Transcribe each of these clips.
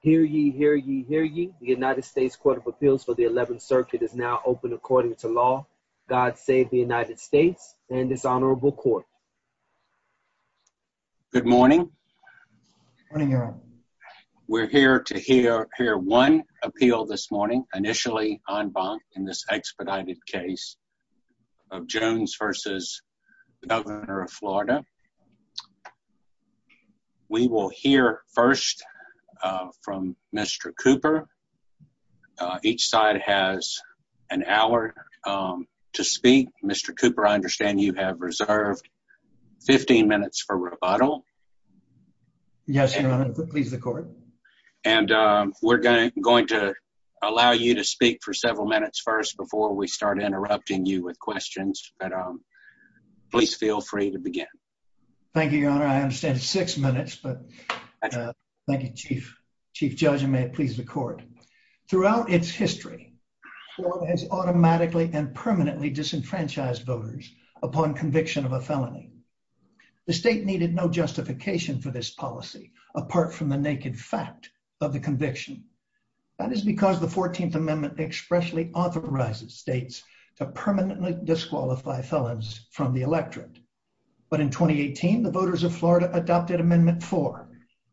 Hear ye, hear ye, hear ye. The United States Court of Appeals for the 11th Circuit is now open according to law. God save the United States and its honorable court. Good morning. We're here to hear one appeal this morning, initially en banc in this expedited case. We will hear first from Mr. Cooper. Each side has an hour to speak. Mr. Cooper, I understand you have reserved 15 minutes for rebuttal. Yes, Your Honor. Please record. And we're going to allow you to speak for several minutes first before we start interrupting you with questions. But please feel free to begin. Thank you, Your Honor. I understand six minutes, but thank you, Chief. Chief Judge, you may please record. Throughout its history, Florida has automatically and permanently disenfranchised voters upon conviction of a felony. The state needed no justification for this policy apart from the naked fact of the conviction. That is because the 14th Amendment expressly authorizes states to permanently disqualify felons from the electorate. But in 2018, the voters of Florida adopted Amendment 4,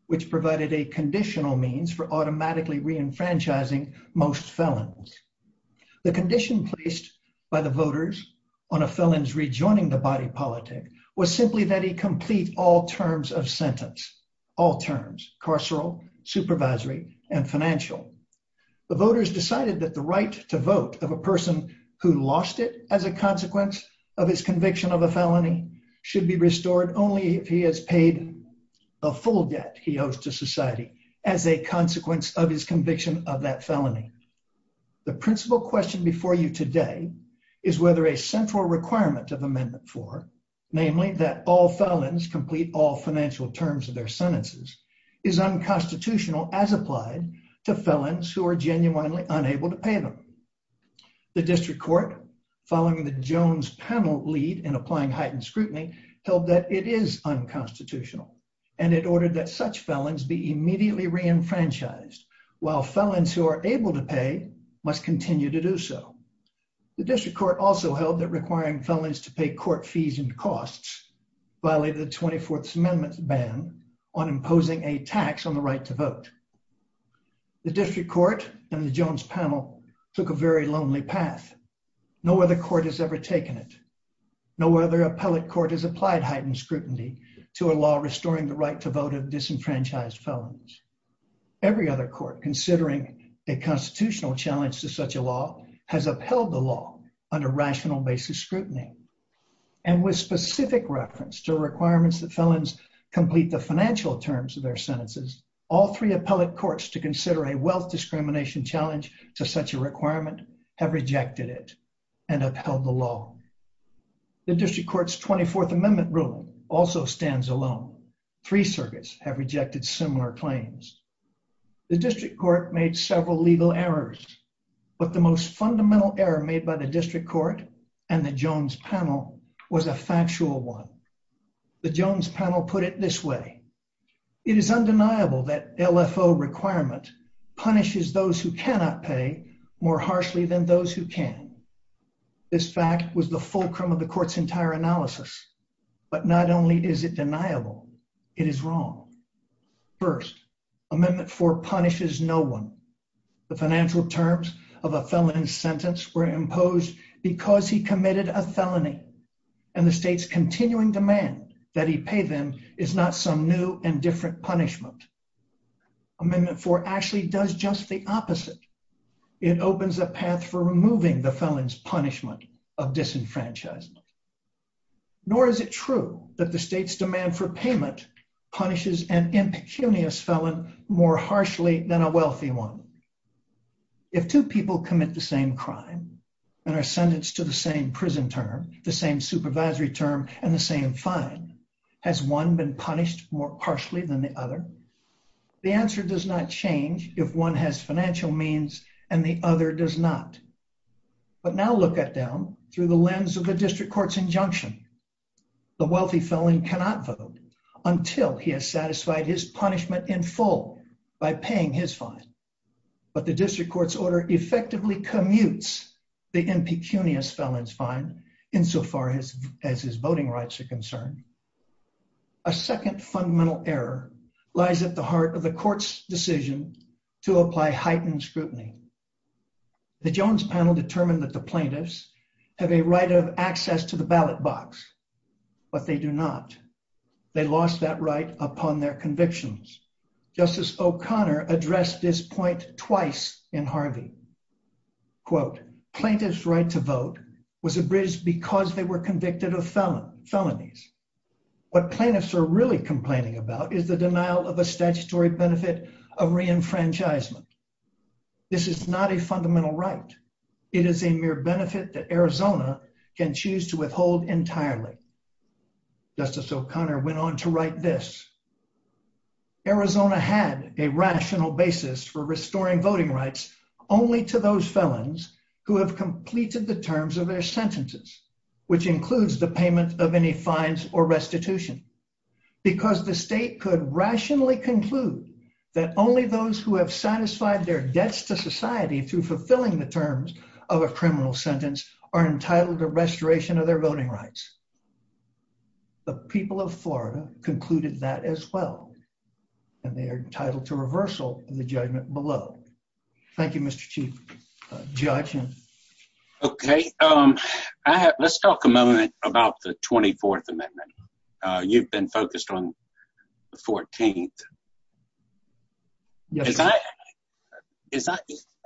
which provided a conditional means for automatically reenfranchising most felons. The condition placed by the voters on a felon's rejoining the body politic was simply that he complete all terms of sentence, all terms, carceral, supervisory, and financial. The voters decided that the right to vote of a person who lost it as a consequence of his conviction of a felony should be restored only if he has paid a full debt he owes to society as a consequence of his conviction of that felony. The principal question before you today is whether a central requirement of Amendment 4, namely that all as applied to felons who are genuinely unable to pay them. The District Court, following the Jones panel lead in applying heightened scrutiny, told that it is unconstitutional and it ordered that such felons be immediately reenfranchised while felons who are able to pay must continue to do so. The District Court also held that requiring felons to pay court fees and to vote. The District Court and the Jones panel took a very lonely path. No other court has ever taken it. No other appellate court has applied heightened scrutiny to a law restoring the right to vote of disenfranchised felons. Every other court, considering a constitutional challenge to such a law, has upheld the law under rational basis scrutiny and with specific reference to the law. All three appellate courts to consider a wealth discrimination challenge to such a requirement have rejected it and upheld the law. The District Court's 24th Amendment rule also stands alone. Three circuits have rejected similar claims. The District Court made several legal errors, but the most fundamental error made by the District Court and the Jones panel was a factual one. The Jones panel put it this way, it is undeniable that LFO requirement punishes those who cannot pay more harshly than those who can. This fact was the fulcrum of the court's entire analysis, but not only is it deniable, it is wrong. First, Amendment 4 punishes no one. The financial terms of a felon's sentence were imposed because he committed a felony and the state's continuing demand that he pay them is not some new and different punishment. Amendment 4 actually does just the opposite. It opens a path for removing the felon's punishment of disenfranchisement. Nor is it true that the state's demand for payment punishes an impecunious felon more harshly than a wealthy one. If two people commit the same crime and are sentenced to the same prison term, the same fine, has one been punished more harshly than the other? The answer does not change if one has financial means and the other does not. But now look at them through the lens of the District Court's injunction. The wealthy felon cannot vote until he has satisfied his punishment in full by paying his fine. But the District Court's order effectively commutes the impecunious felon's fine insofar as his voting rights are concerned. A second fundamental error lies at the heart of the court's decision to apply heightened scrutiny. The Jones panel determined that the plaintiffs have a right of access to the ballot box, but they do not. They lost that right upon their convictions. Justice O'Connor addressed this point twice in Harvey. Quote, plaintiff's right to vote was abridged because they were convicted of felonies. What plaintiffs are really complaining about is the denial of a statutory benefit of reenfranchisement. This is not a fundamental right. It is a mere benefit that Arizona can choose to withhold entirely. Justice O'Connor went on to write this. Arizona had a rational basis for restoring voting rights only to those felons who have completed the terms of their sentences, which includes the payment of any fines or restitution. Because the state could rationally conclude that only those who have satisfied their debts to society through fulfilling the terms of a criminal sentence are entitled to restoration of their rights as well. They are entitled to reversal in the judgment below. Thank you, Mr. Chief Judge. Okay. Let's talk a moment about the 24th Amendment. You've been focused on the 14th.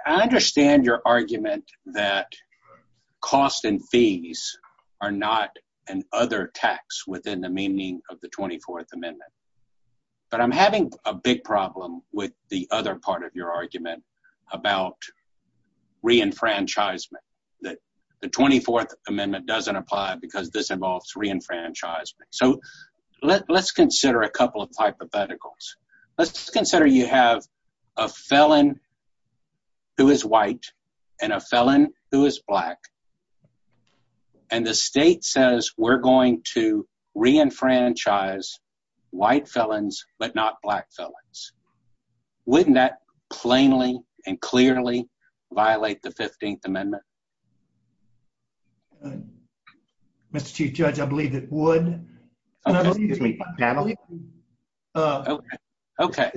I understand your argument that costs and fees are not an other tax within the meaning of the but I'm having a big problem with the other part of your argument about reenfranchisement that the 24th Amendment doesn't apply because this involves reenfranchisement. So let's consider a couple of hypotheticals. Let's consider you have a felon who is white and a felon who is black and the state says we're going to reenfranchise white felons but not black felons. Wouldn't that plainly and clearly violate the 15th Amendment? Mr. Chief Judge, I believe it would. I believe it would. Okay.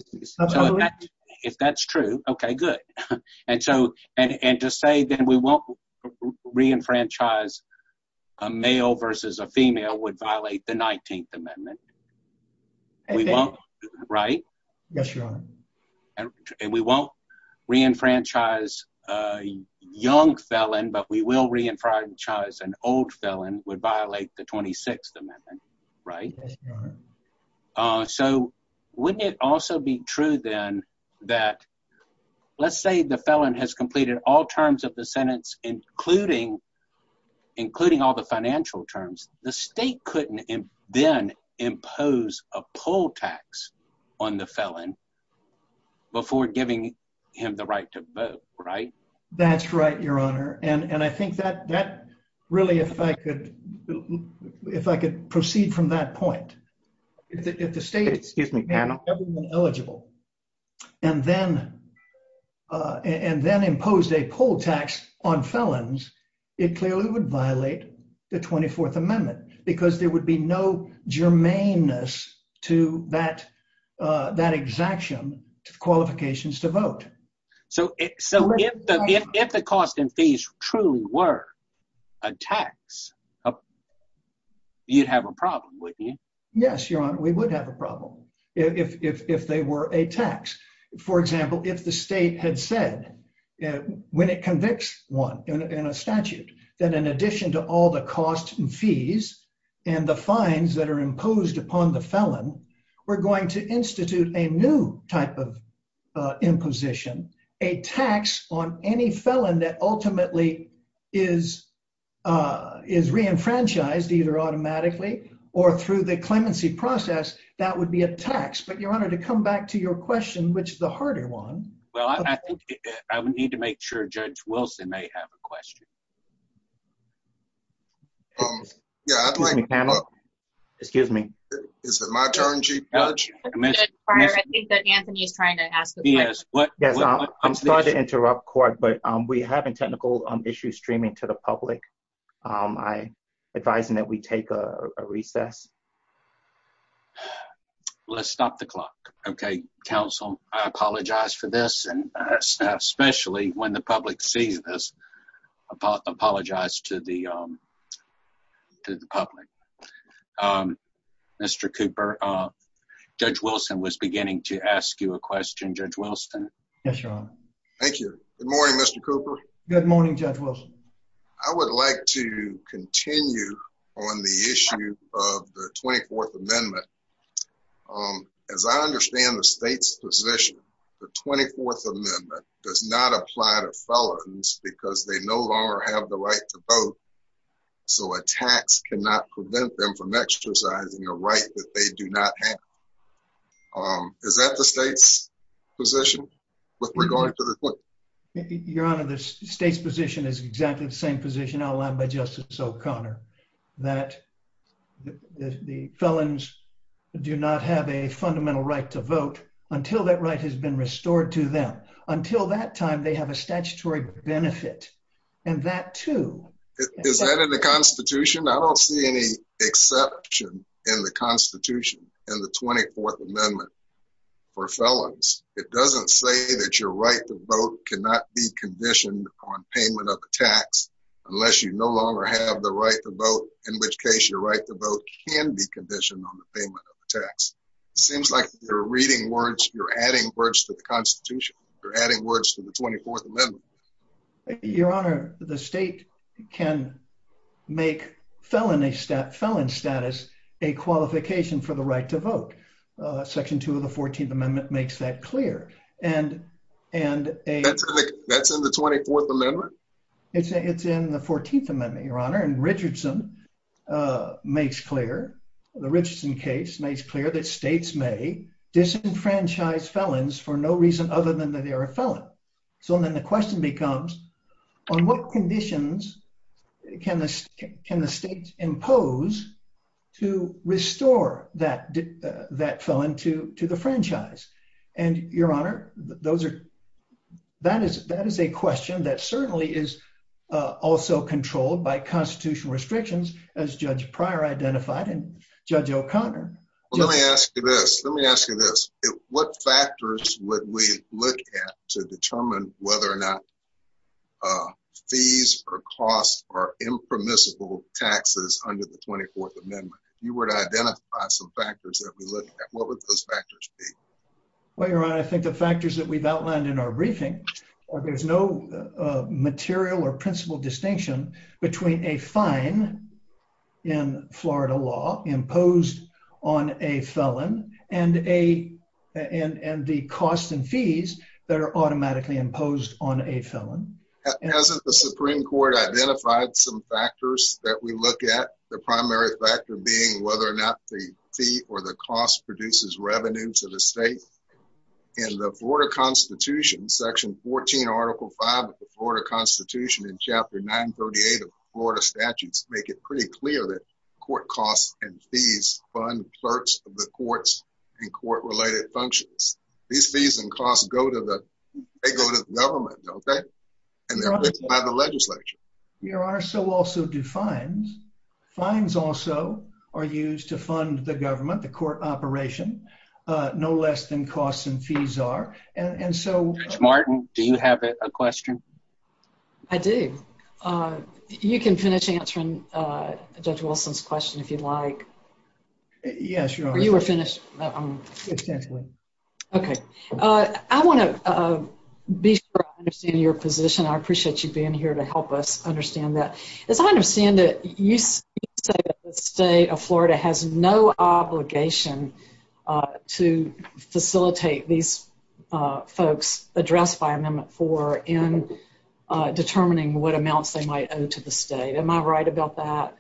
If that's true, okay, good. And to say that we won't reenfranchise a male versus a female would violate the 19th Amendment. Right? Yes, Your Honor. And we won't reenfranchise a young felon but we will reenfranchise an old felon, right? Yes, Your Honor. So wouldn't it also be true then that let's say the felon has completed all terms of the sentence including all the financial terms. The state couldn't then impose a poll tax on the felon before giving him the right to vote, right? That's right, Your Honor. And I think that really, if I could proceed from that point, if the state is eligible and then imposed a poll tax on felons, it clearly would violate the 24th Amendment because there would be no germaneness to that exaction of qualifications to vote. So if the cost and fees truly were a tax, you'd have a problem, wouldn't you? Yes, Your Honor, we would have a problem if they were a tax. For example, if the state had said when it convicts one in a statute that in addition to all the costs and fees and the fines that are in position, a tax on any felon that ultimately is reenfranchised either automatically or through the clemency process, that would be a tax. But Your Honor, to come back to your question, which is the harder one. Well, I think I would need to make sure Judge Wilson may have a question. Excuse me, panel. Excuse me. Is it my turn, Chief Judge? Yes, I'm sorry to interrupt, Court, but we have a technical issue streaming to the public. I advise that we take a recess. Let's stop the clock, okay, counsel. I apologize for this, and especially when the public sees this. I apologize to the public. Mr. Cooper, Judge Wilson was beginning to ask you a question. Judge Wilson. Yes, Your Honor. Thank you. Good morning, Mr. Cooper. Good morning, Judge Wilson. I would like to continue on the issue of the 24th Amendment. As I understand the state's position, the 24th Amendment does not apply to felons because they no longer have the right to vote, so a tax cannot prevent them from exercising a right that they do not have. Is that the state's position with regard to the court? Your Honor, the state's position is exactly the same position outlined by Justice O'Connor, that the felons do not have a fundamental right to vote until that right has been restored to them. Until that time, they have a statutory benefit, and that, too. Is that in the Constitution? I don't see any exception in the Constitution and the 24th Amendment for felons. It doesn't say that your right to vote cannot be conditioned on payment of the tax unless you no longer have the right to vote, in which case your right to vote can be conditioned on the payment of the tax. It seems like you're reading words, you're adding words to the Constitution, you're adding words to the 24th Amendment. Your Honor, the state can make felon status a qualification for the right to vote. Section 2 of the 14th Amendment makes that clear. That's in the 24th Amendment? It's in the 14th Amendment, Your Honor, and the Richardson case makes clear that states may disenfranchise felons for no reason other than that they are a felon. So then the question becomes, on what conditions can the states impose to restore that felon to the franchise? And, Your Honor, that is a question that certainly is also controlled by constitutional restrictions, as Judge Pryor identified and Judge O'Connor. Let me ask you this. Let me ask you this. What impromissible taxes under the 24th Amendment? You were to identify some factors that we're looking at. What would those factors be? Well, Your Honor, I think the factors that we've outlined in our briefing, there's no material or principal distinction between a fine in Florida law imposed on a felon and the cost and fees that are automatically imposed on a felon. Hasn't the Supreme Court identified some factors that we look at, the primary factor being whether or not the fee or the cost produces revenue to the state? In the Florida Constitution, Section 14, Article 5 of the Florida Constitution and Chapter 938 of the Florida Statutes make it pretty clear that court costs and fees fund the courts and court-related functions. These fees and costs go to the government, okay? And they're written by the legislature. Your Honor, so also do fines. Fines also are used to fund the government, the court operation, no less than costs and fees are. And so... Ms. Martin, do you have a question? I do. You can finish answering Judge Wilson's question if you'd like. Yes, Your Honor. You I want to be sure I understand your position. I appreciate you being here to help us understand that. As I understand it, you say that the state of Florida has no obligation to facilitate these folks addressed by Amendment 4 in determining what amounts they might owe to the state. Am I right about that?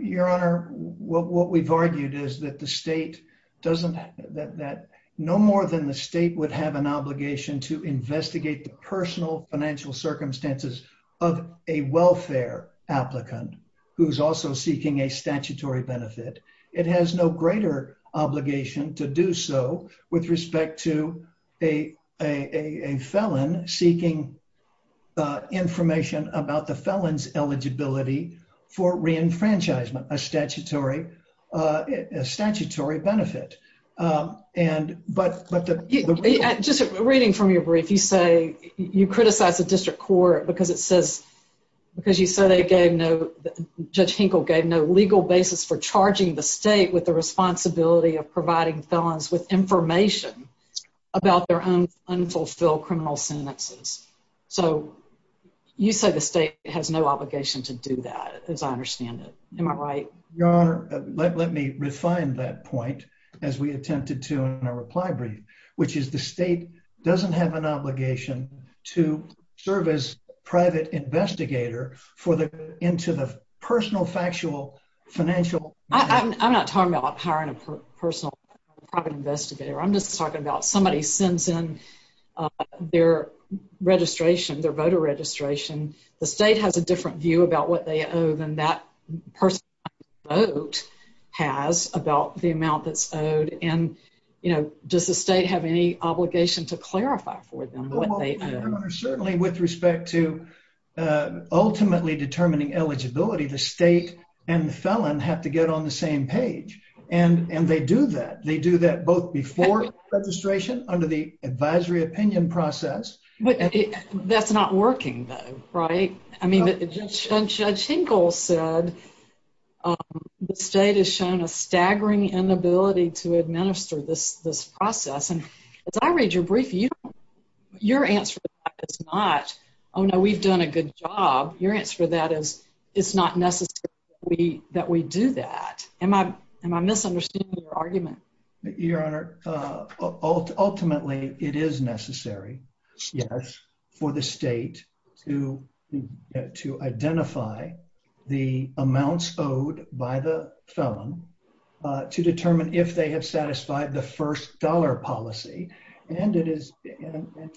Your Honor, what we've argued is that the state doesn't, that no more than the state would have an obligation to investigate the personal financial circumstances of a welfare applicant who's also seeking a statutory benefit. It has no greater obligation to do so with respect to a felon seeking information about the felon's eligibility for reenfranchisement, a statutory benefit. And, but the... Just reading from your brief, you say, you criticize the district court because it says, because you say they gave no, Judge Hinkle gave no legal basis for charging the state with the responsibility of providing felons with information about their own unfulfilled criminal sentences. So, you say the state has no obligation to do that, as I understand it. Am I right? Your Honor, let me refine that point as we attempted to in our reply brief, which is the state doesn't have an obligation to serve as private investigator for the, into the personal factual financial... I'm not talking about hiring a personal private investigator. I'm just talking about somebody sends in their registration, their voter registration. The state has a different view about what they owe than that person's vote has about the amount that's owed. And, you know, does the state have any obligation to clarify for them what they owe? Certainly with respect to ultimately determining eligibility, the state and the felon have to get on the same page. And they do that. They do that both before registration under the advisory opinion process. That's not working though, right? I mean, Judge Hinkle said the state has shown a staggering inability to administer this process. And as I read your brief, your answer is not, oh no, we've done a good job. Your answer to that is it's not necessary that we do that. Am I misunderstanding your argument? Your Honor, ultimately it is necessary, yes, for the state to identify the amounts owed by the felon to determine if they have satisfied the first dollar policy. And it is... And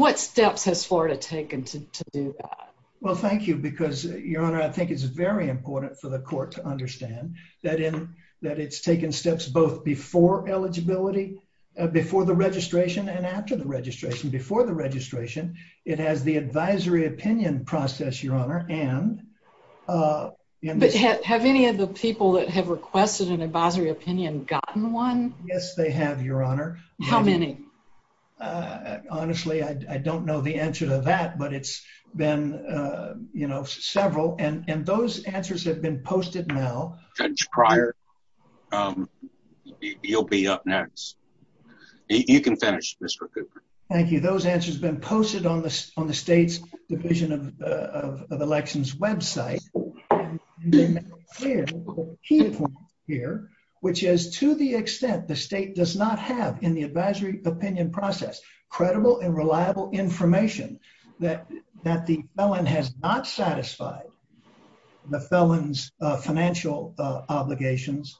what steps has Florida taken to do that? Well, thank you, because, Your Honor, I think it's very important for the court to understand that it's taken steps both before eligibility, before the registration and after the registration. Before the registration, it has the advisory opinion process, Your Honor, and... But have any of the people that have requested an advisory opinion gotten one? Yes, they have, Your Honor. How many? Uh, honestly, I don't know the answer to that, but it's been, you know, several. And those answers have been posted now. Judge Pryor, you'll be up next. You can finish, Mr. Cooper. Thank you. Those answers have been posted on the state's Division of Elections website. And the key point here, which is to the extent the state does not have in the advisory opinion process credible and reliable information that the felon has not satisfied the felon's financial obligations,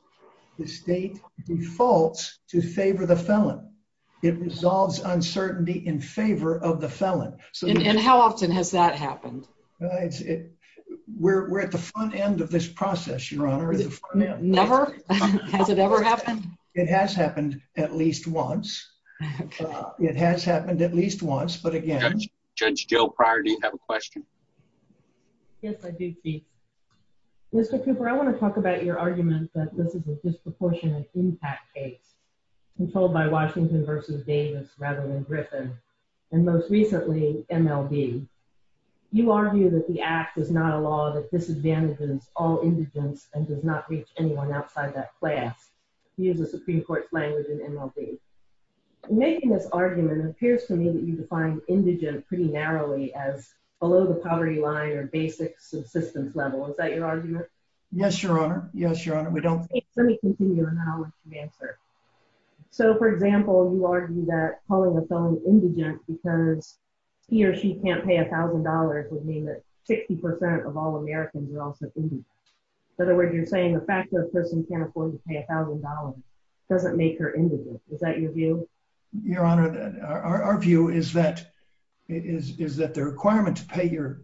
the state defaults to favor the felon. It resolves uncertainty in favor of the felon. And how often has that happened? We're at the front end of this process, Your Honor. Never? Has it ever happened? It has happened at least once. It has happened at least once, but again... Judge Gill, Pryor, do you have a question? Yes, I do, Steve. Mr. Cooper, I want to talk about your argument that this is a disproportionate impact case, controlled by Washington v. Davis rather than Griffin, and most recently, MLB. You argue that the act is not a law that disadvantages all indigent and does not reach anyone outside that class. You use a Supreme Court claim within MLB. Making this argument, it appears to me that you define indigent pretty narrowly as below the poverty line or basic subsistence level. Is that your argument? Yes, Your Honor. Yes, Your Honor. We don't... Let me continue and I'll answer. So, for example, you argue that calling a felon indigent because he or she can't pay $1,000 would mean that 60% of all Americans are also indigent. In other words, you're saying the fact that a person can't afford to pay $1,000 doesn't make her indigent. Is that your view? Your Honor, our view is that the requirement to pay your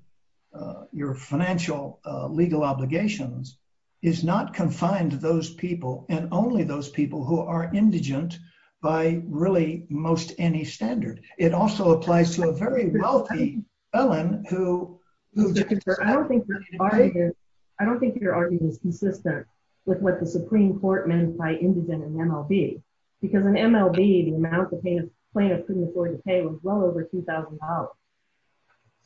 financial legal obligations is not confined to those people and only those people who are indigent by really most any standard. It also applies to a very wealthy felon who... I don't think your argument is consistent with what the Supreme Court meant by indigent in MLB because in MLB, the amount the plaintiff couldn't afford to pay was well over $2,000.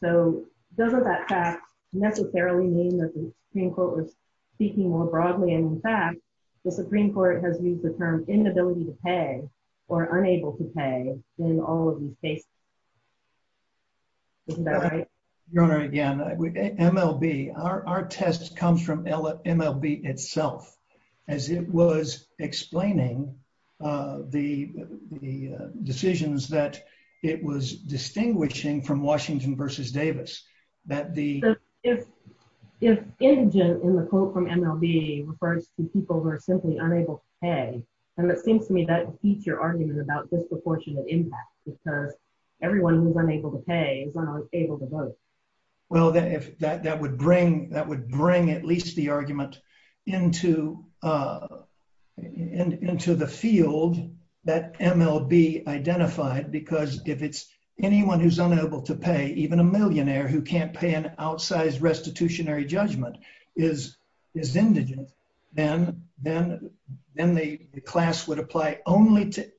So, doesn't that fact necessarily mean that the Supreme Court was speaking more broadly? In fact, the Supreme Court has used the term inability to pay or unable to pay in all of these cases. Isn't that right? Your Honor, again, MLB, our test comes from MLB itself as it was explaining the decisions that it was distinguishing from Washington versus Davis. If indigent in the quote from MLB refers to people who are simply unable to pay, then it seems to me that would teach your argument about disproportionate impact because everyone who's unable to pay is unable to vote. Well, that would bring at least the argument into the field that MLB identified because anyone who's unable to pay, even a millionaire who can't pay an outsized restitutionary judgment is indigent. Then the class would apply only to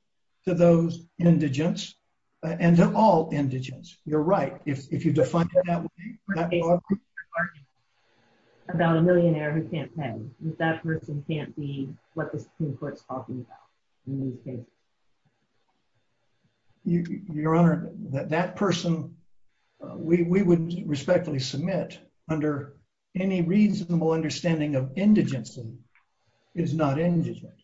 those indigents and to all indigents. You're right. If you define that... About a millionaire who can't pay, that person can't be what the Supreme Court is talking about. Okay. Your Honor, that person, we would respectfully submit under any reasonable understanding of indigency is not indigent.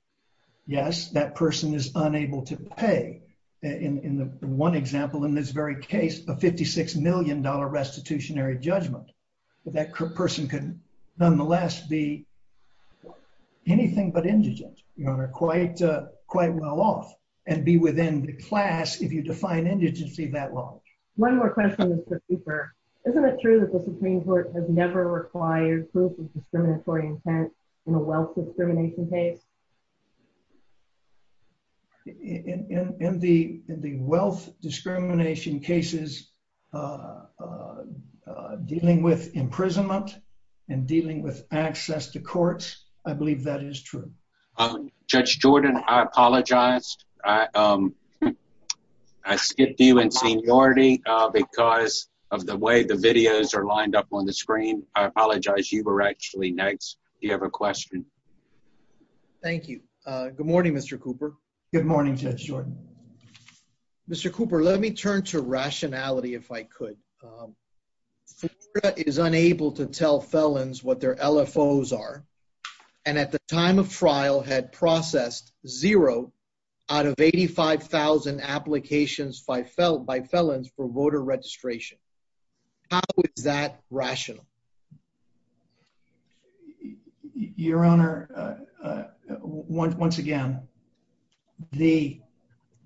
Yes, that person is unable to pay. In one example, in this very case, a $56 million restitutionary judgment, but that person can nonetheless be anything but indigent, quite well off, and be within the class if you define indigency that long. One more question, Mr. Cooper. Isn't it true that the Supreme Court has never required proof of discriminatory intent in a wealth discrimination case? In the wealth discrimination cases dealing with imprisonment and dealing with access to courts, I believe that is true. Judge Jordan, I apologize. I skipped you in seniority because of the way the videos are lined up on the screen. I apologize. You were actually next. Do you have a question? Thank you. Good morning, Mr. Cooper. Good morning, Judge Jordan. Mr. Cooper, let me turn to rationality if I could. The state is unable to tell felons what their LFOs are, and at the time of trial had processed zero out of 85,000 applications by felons for voter registration. How is that rational? Your Honor, once again, the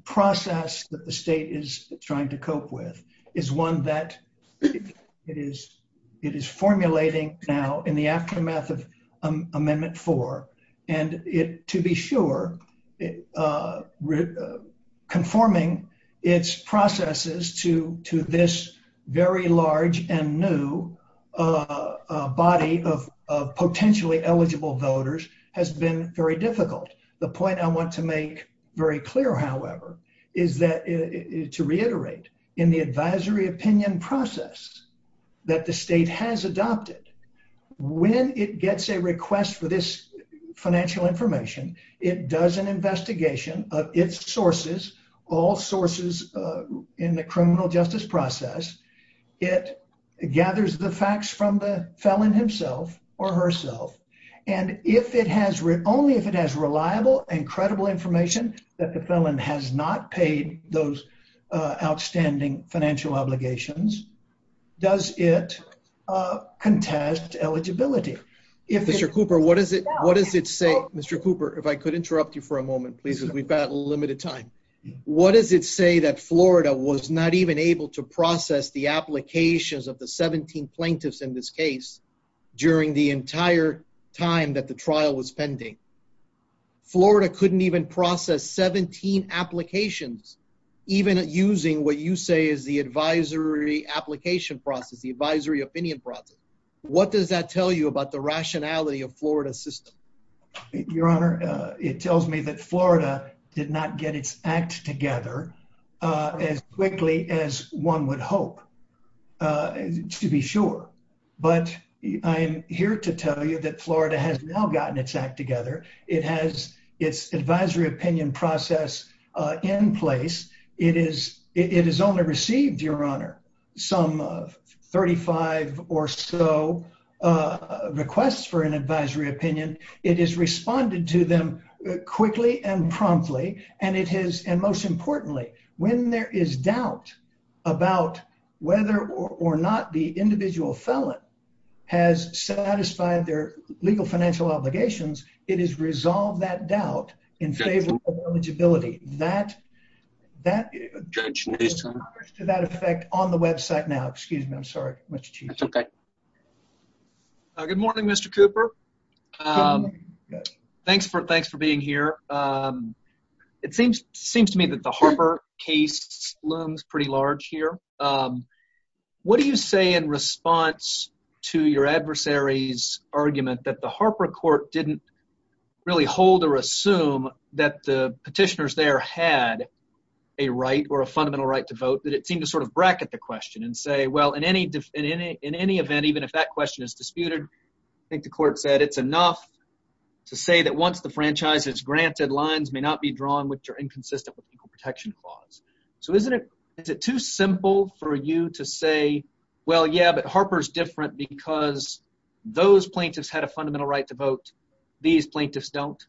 process that the state is trying to cope with is one that it is formulating now in the aftermath of Amendment 4, and to be sure, conforming its processes to this very large and new body of potentially eligible voters has been very difficult. The point I want to make very clear, however, is to reiterate, in the advisory opinion process that the state has adopted, when it gets a request for this information, it does an investigation of its sources, all sources in the criminal justice process. It gathers the facts from the felon himself or herself, and if it has, only if it has reliable and credible information that the felon has not paid those outstanding financial obligations, does it contest eligibility. Mr. Cooper, what does it say? Mr. Cooper, if I could interrupt you for a moment, please, as we've got limited time. What does it say that Florida was not even able to process the applications of the 17 plaintiffs in this case during the entire time that the trial was pending? Florida couldn't even process 17 applications, even using what you say is the advisory application process, the advisory opinion process. What does that tell you about the rationality of Florida's system? Your Honor, it tells me that Florida did not get its act together as quickly as one would hope, to be sure, but I'm here to tell you that Florida has now gotten its act together. It has its advisory opinion process in place. It has only received, Your Honor, some 35 or so requests for an advisory opinion. It has responded to them quickly and promptly, and most importantly, when there is doubt about whether or not the individual felon has satisfied their legal financial obligations, it has resolved that doubt in favor of eligibility. That effect on the website now. Excuse me. I'm sorry, Mr. Chief. That's okay. Good morning, Mr. Cooper. Thanks for being here. It seems to me that the Harper case looms pretty large here. What do you say in response to your adversary's argument that the Harper court didn't really hold or assume that the petitioners there had a right or a fundamental right to vote, that it seemed to sort of bracket the question and say, well, in any event, even if that question is disputed, I think the court said it's enough to say that once the franchise is granted, lines may not be drawn which are inconsistent with legal protection clause. So is it too simple for you to say, well, yeah, but Harper's different because those plaintiffs had a fundamental right to vote. These plaintiffs don't?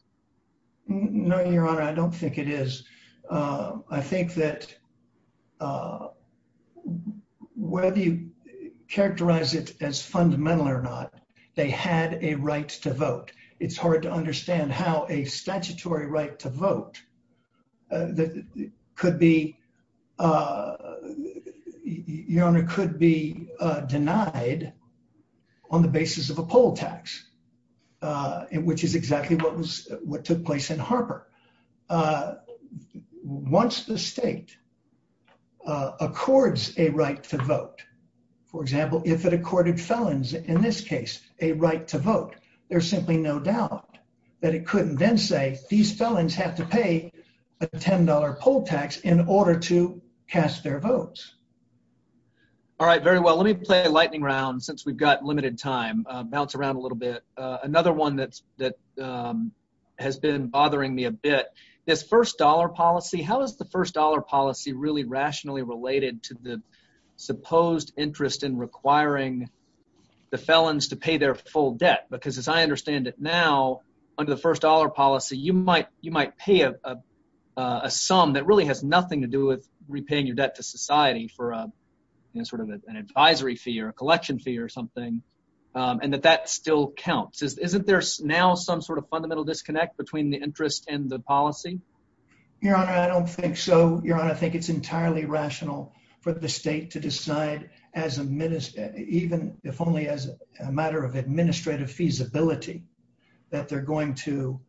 No, Your Honor, I don't think it is. I think that whether you characterize it as fundamental or not, they had a right to vote. It's hard to understand how a statutory right to vote could be denied on the basis of a poll tax, which is exactly what took place in Harper. Once the state accords a right to vote, for example, if it accorded felons in this case a right to vote, there's simply no doubt that it couldn't then say these felons have to pay a $10 poll tax in order to cast their votes. All right, very well. Let me play a lightning round since we've got limited time. Bounce around a little bit. Another one that has been bothering me a bit, this first dollar policy, how is the first dollar policy really rationally related to the supposed interest in requiring the felons to under the first dollar policy, you might pay a sum that really has nothing to do with repaying your debt to society for sort of an advisory fee or a collection fee or something, and that that still counts. Isn't there now some sort of fundamental disconnect between the interest and the policy? Your Honor, I don't think so. Your Honor, I think it's entirely rational for the state to decide even if only as a matter of administrative feasibility that they're going to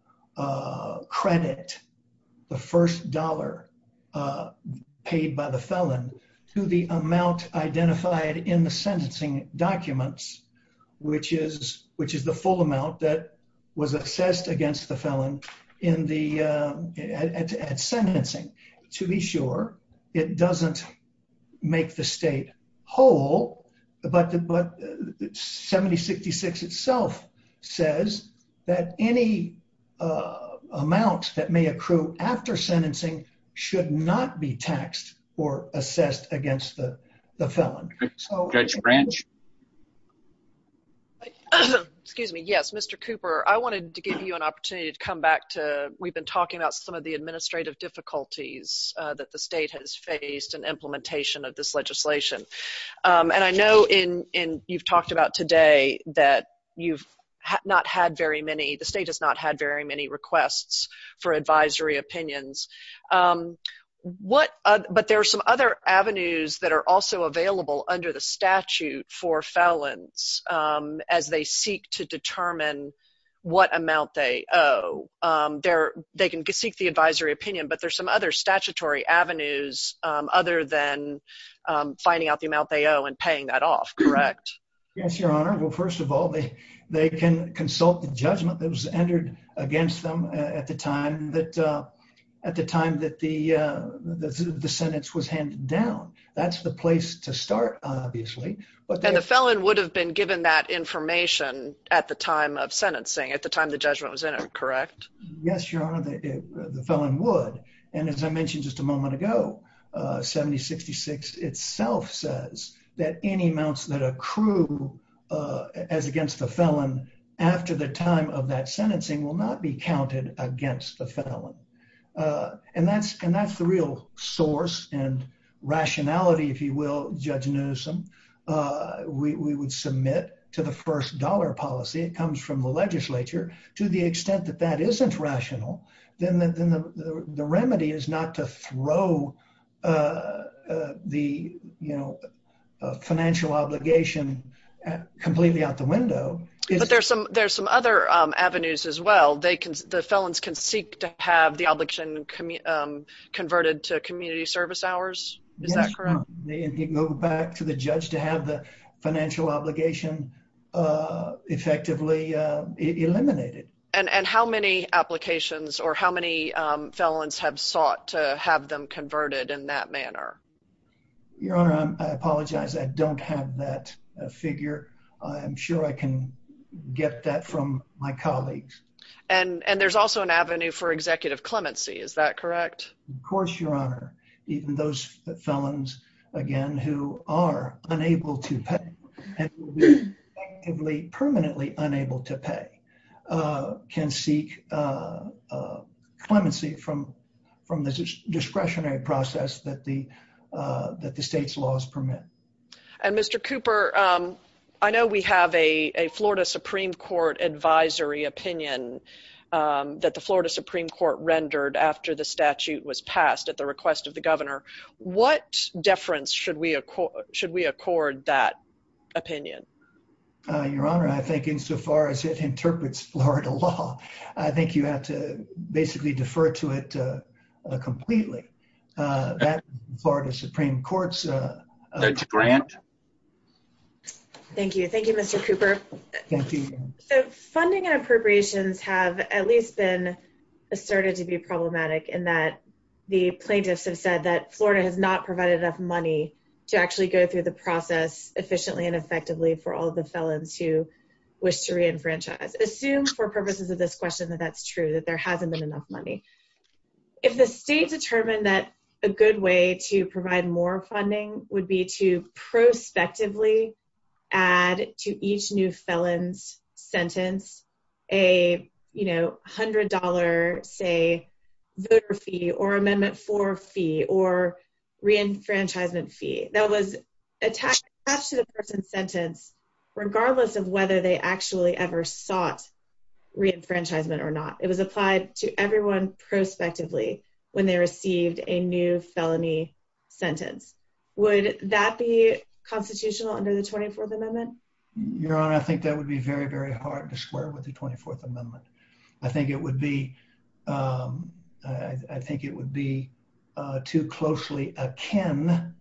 credit the first dollar paid by the felon to the amount identified in the sentencing documents, which is the full amount that was assessed against the felon in the sentencing. To be sure, it doesn't make the state whole, but 7066 itself says that any amounts that may accrue after sentencing should not be taxed or assessed against the felon. Judge Branch? Excuse me. Yes, Mr. Cooper, I wanted to give you an opportunity to come back to, we've been talking about some of the administrative difficulties that the state has faced in implementation of this legislation, and I know in you've talked about today that you've not had very many, the state has not had very many requests for advisory opinions. What, but there are some other avenues that are also available under the statute for felons as they seek to determine what amount they owe. They can seek the advisory opinion, but there's some other statutory avenues other than finding out the amount they owe and paying that off, correct? Yes, Your Honor. Well, first of all, they can consult the judgment that was at the time that the sentence was handed down. That's the place to start, obviously. And the felon would have been given that information at the time of sentencing, at the time the judgment was in him, correct? Yes, Your Honor, the felon would. And as I mentioned just a moment ago, 7066 itself says that any amounts that accrue as against the felon after the time of that sentencing will not be counted against the felon. And that's the real source and rationality, if you will, Judge Newsom, we would submit to the first dollar policy. It comes from the legislature. To the extent that that isn't rational, then the remedy is not to throw the, you know, financial obligation completely out the window. But there's some other avenues as well. The felons can seek to have the obligation converted to community service hours. Is that correct? Yes, Your Honor. They can go back to the judge to have the financial obligation effectively eliminated. And how many applications or how many felons have sought to have them converted in that manner? Your Honor, I apologize, I don't have that figure. I'm sure I can get that from my colleagues. And there's also an avenue for executive clemency, is that correct? Of course, Your Honor. Even those felons, again, who are unable to pay, and permanently unable to pay, can seek clemency from the discretionary process that the state's laws permit. And Mr. Cooper, I know we have a Florida Supreme Court advisory opinion that the Florida Supreme Court rendered after the statute was passed at the request of the opinion. Your Honor, I think insofar as it interprets Florida law, I think you have to basically defer to it completely. That part of the Supreme Court's grant. Thank you. Thank you, Mr. Cooper. Funding appropriations have at least been asserted to be problematic in that the plaintiffs have said that Florida has not provided enough to actually go through the process efficiently and effectively for all of the felons who wish to reenfranchise. Assume for purposes of this question that that's true, that there hasn't been enough money. If the state determined that a good way to provide more funding would be to prospectively add to each new felon's sentence a, you know, $100, say, voter fee or Amendment 4 fee or reenfranchisement fee that was attached to the person's sentence regardless of whether they actually ever sought reenfranchisement or not. It was applied to everyone prospectively when they received a new felony sentence. Would that be constitutional under the 24th Amendment? Your Honor, I think that would be very, very hard to square with the 24th Amendment. I think it would be too closely akin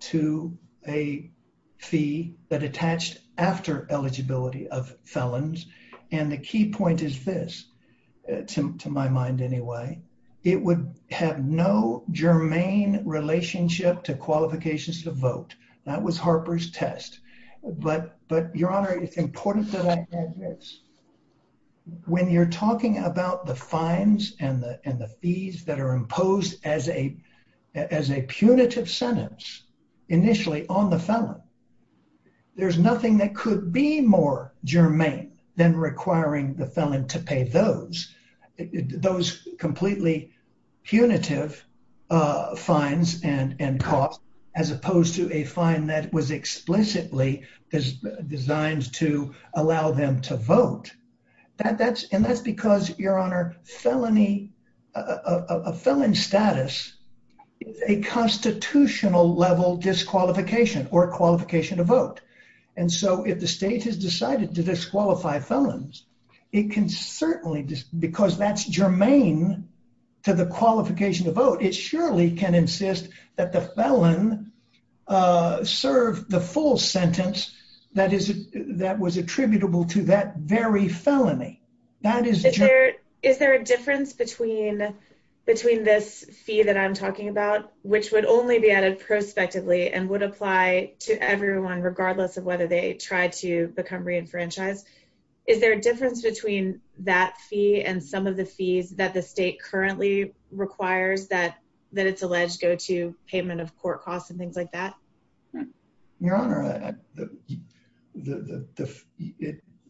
to a fee that attached after eligibility of felons. And the key point is this, to my mind anyway, it would have no germane relationship to qualifications to vote. That was Harper's test. But, Your Honor, it's important that I add this. When you're talking about the fines and the fees that are imposed as a punitive sentence initially on the felon, there's nothing that could be more germane than requiring the felon to pay those, those completely punitive fines and costs as opposed to a fine that was explicitly designed to allow them to vote. And that's because, Your Honor, a felon status is a constitutional level disqualification or qualification to vote. And so if the state has decided to disqualify felons, it can certainly, because that's germane to the that is, that was attributable to that very felony. Is there a difference between, between this fee that I'm talking about, which would only be added prospectively and would apply to everyone regardless of whether they try to become re-enfranchised? Is there a difference between that fee and some of the fees that the state currently requires that, that it's alleged payment of court costs and things like that? Your Honor,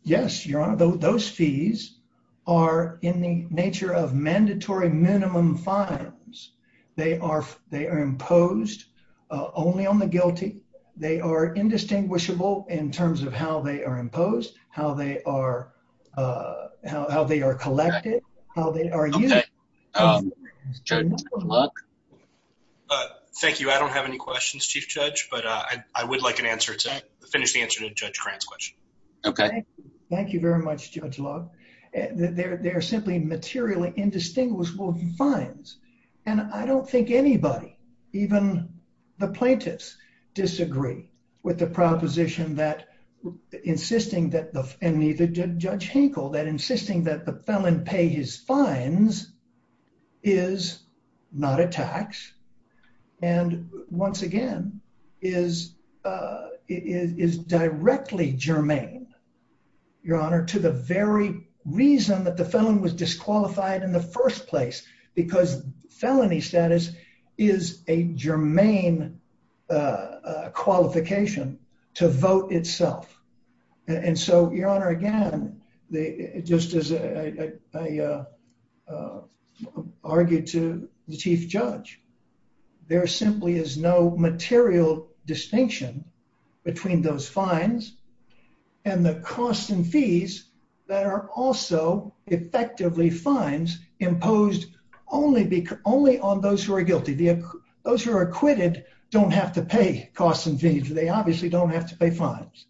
yes, Your Honor, those fees are in the nature of mandatory minimum fines. They are, they are imposed only on the guilty. They are indistinguishable in terms of how they are imposed, how they are, how they are collected, how they are used. Thank you. I don't have any questions, Chief Judge, but I would like an answer to, finish the answer to Judge Grant's question. Okay. Thank you. Thank you very much, Judge Love. They're simply materially indistinguishable fines. And I don't think anybody, even the plaintiffs, disagree with the proposition that insisting that the, and even Judge Hinkle, that insisting that the felon pay his fines is not a tax. And once again, is, is directly germane, Your Honor, to the very reason that the felon was disqualified in the first place, because felony status is a qualification to vote itself. And so, Your Honor, again, just as I argued to the Chief Judge, there simply is no material distinction between those fines and the costs and fees that are also effectively fines imposed only because, only on those who are guilty. Those who are acquitted don't have to pay costs and fees. They obviously don't have to pay fines.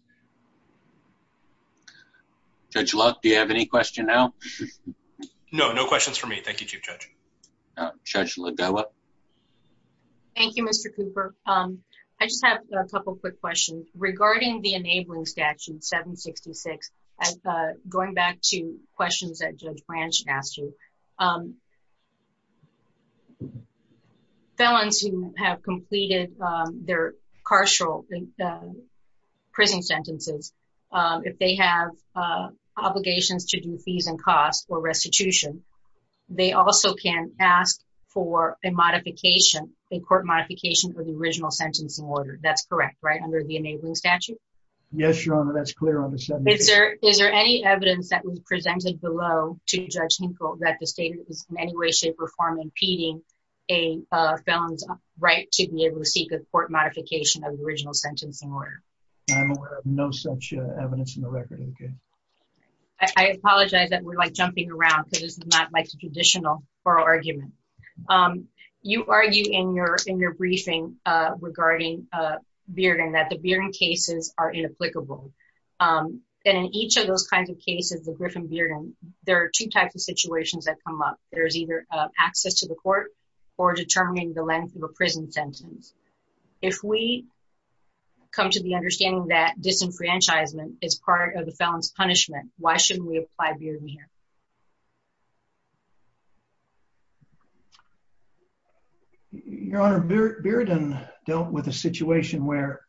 Judge Love, do you have any question now? No, no questions for me. Thank you, Chief Judge. Judge Lovella. Thank you, Mr. Cooper. I just have a couple quick questions. Regarding the enabling statute 766, going back to questions that Judge Branch asked you, felons who have completed their carceral prison sentences, if they have obligations to do fees and costs or restitution, they also can ask for a modification, a court modification for the original sentencing order. That's correct, right, under the enabling statute? Yes, Your Honor, that's clear on the 766. Is there any evidence that was presented below to Judge Hinkle that in any way, shape, or form impeding a felon's right to be able to seek a court modification of the original sentencing order? I'm aware of no such evidence in the record. I apologize that we're jumping around because this is not my conditional oral argument. You argued in your briefing regarding Bearden that the Bearden cases are inapplicable. And in each of those kinds of cases with Griffin-Bearden, there are two types of situations that come up. There's either access to the court or determining the leniency of a prison sentence. If we come to the understanding that disenfranchisement is part of the felon's punishment, why shouldn't we apply Bearden here? Your Honor, Bearden dealt with a situation where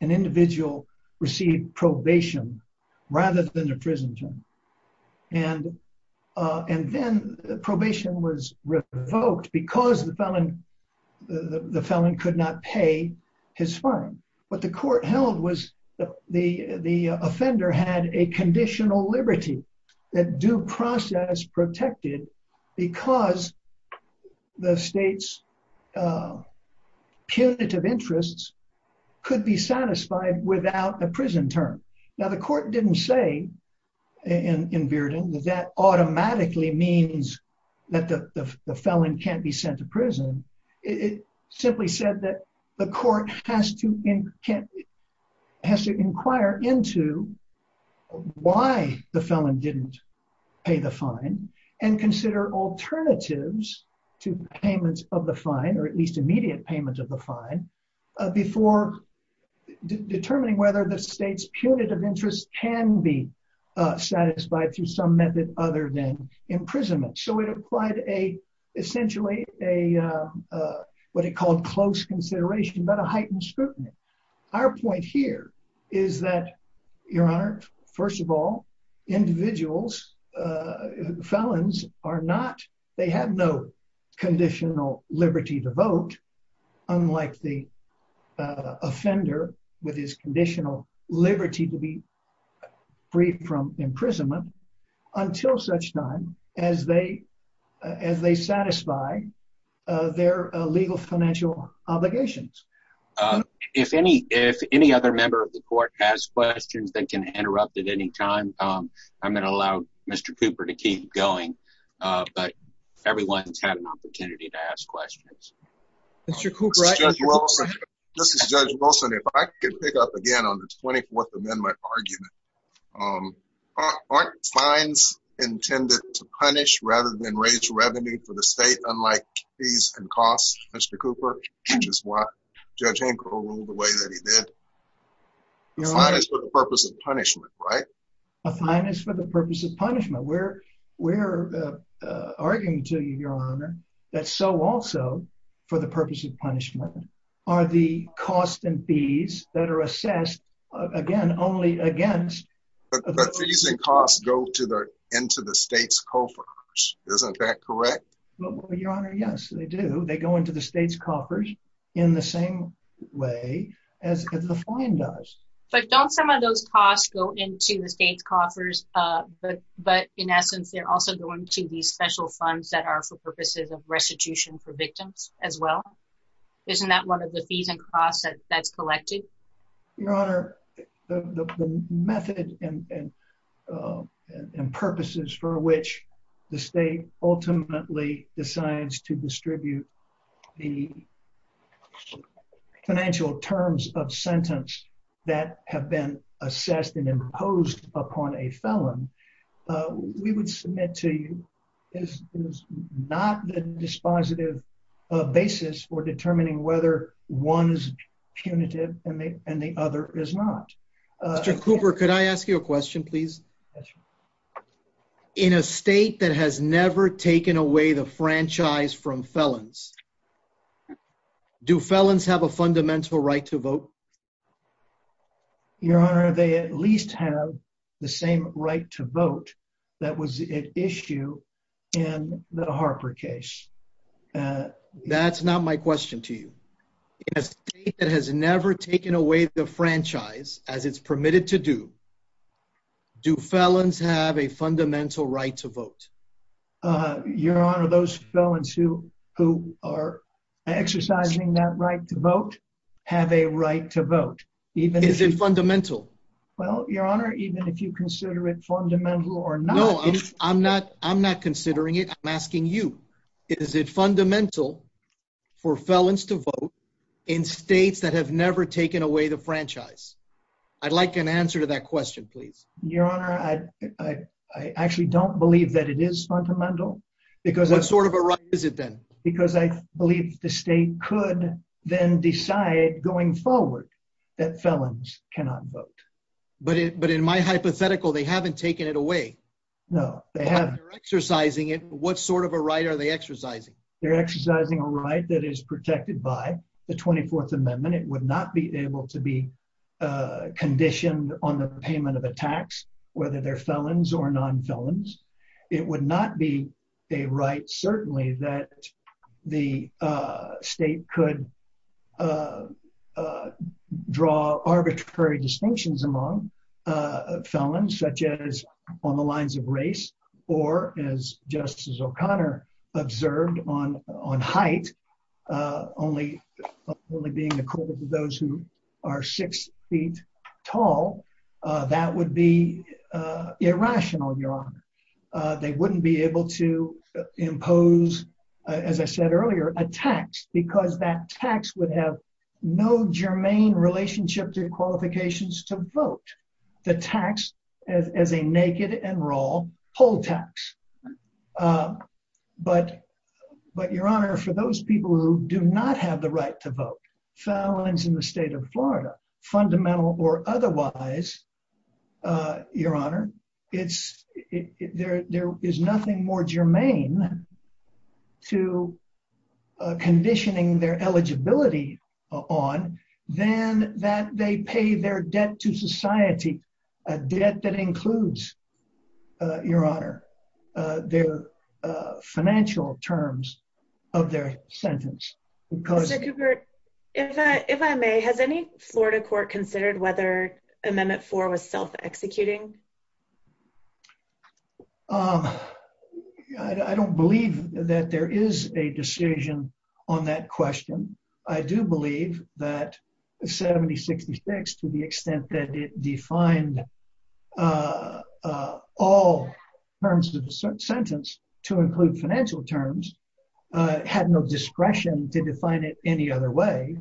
an individual received probation rather than a prison term. And then the probation was revoked because the felon could not pay his fine. What the court held was the offender had a conditional liberty that due process protected because the state's punitive interests could be satisfied without a prison term. Now, the court didn't say in Bearden that that automatically means that the felon can't be sent to prison. It simply said that the court has to inquire into why the felon didn't pay the fine and consider alternatives to the payment of the fine, or at least immediate payment of the fine, before determining whether the state's punitive interest can be satisfied through some method other than imprisonment. So it applied essentially what it called close consideration, but a heightened scrutiny. Our point here is that Your Honor, first of all, individuals, felons are not, they have no conditional liberty to vote, unlike the offender with his conditional liberty to be free from imprisonment, until such time as they satisfy their legal financial obligations. If any other member of the court has questions, they can interrupt at any time. I'm going to allow Mr. Cooper to keep going, but everyone's had an opportunity to ask questions. This is Judge Wilson. If I could pick up again on the 24th Amendment argument, aren't fines intended to punish rather than raise revenue for the state, unlike fees and costs, Mr. Cooper, which is why Judge Hancock ruled the way that he did. A fine is for the purpose of punishment, right? A fine is for the purpose of punishment. We're arguing to you, Your Honor, that so also, for the purpose of punishment, are the cost and fees that are assessed, again, only against... But the fees and costs go into the state's coffers in the same way as the fine does. But don't some of those costs go into the state coffers, but, in essence, they're also going to these special funds that are for purposes of restitution for victims as well? Isn't that one of the fees and costs that's collected? Your Honor, the methods and purposes for which the state ultimately decides to distribute the financial terms of sentence that have been assessed and imposed upon a felon, we would submit to you is not the dispositive basis for determining whether one's punitive and the other is not. Mr. Cooper, could I ask you a question, please? Yes, Your Honor. In a state that has never taken away the franchise from felons, do felons have a fundamental right to vote? Your Honor, they at least have the same right to vote that was at issue in the Harper case. That's not my question to you. In a state that has never taken away the franchise, as it's permitted to do, do felons have a fundamental right to vote? Your Honor, those felons who are exercising that right to vote have a right to vote. Is it fundamental? Well, Your Honor, even if you consider it fundamental or not... No, I'm not considering it. I'm asking you. Is it fundamental for felons to vote in states that have never taken away the franchise? I'd like an answer to that question, please. Your Honor, I actually don't believe that it is fundamental. What sort of a right is it then? Because I believe the state could then decide going forward that felons cannot vote. But in my hypothetical, they haven't taken it away. No, they haven't. They're exercising it. What sort of a right are they exercising? They're exercising a right that is protected by the 24th Amendment. It would not be able to be conditioned on the payment of a tax, whether they're felons or non-felons. It would not be a right, certainly, that the state could draw arbitrary distinctions among felons, such as on the lines of race or, as Justice O'Connor observed, on height, only being equal to those who are six feet tall. That would be irrational, Your Honor. They wouldn't be able to impose, as I said earlier, a tax because that tax would have no germane relationship to qualifications to vote, the tax as a naked and raw poll tax. But, Your Honor, for those people who do not have the right to vote, felons in the state of Florida, fundamental or otherwise, Your Honor, there is nothing more germane to conditioning their eligibility on than that they pay their debt to society, a debt that includes, Your Honor, their financial terms of their sentence, because... Mr. Cooper, if I may, has any Florida court considered whether Amendment 4 was self-executing? I don't believe that there is a decision on that question. I do believe that 7066, to the extent that it defined all terms of the sentence to include financial terms, had no discretion to define it any other way.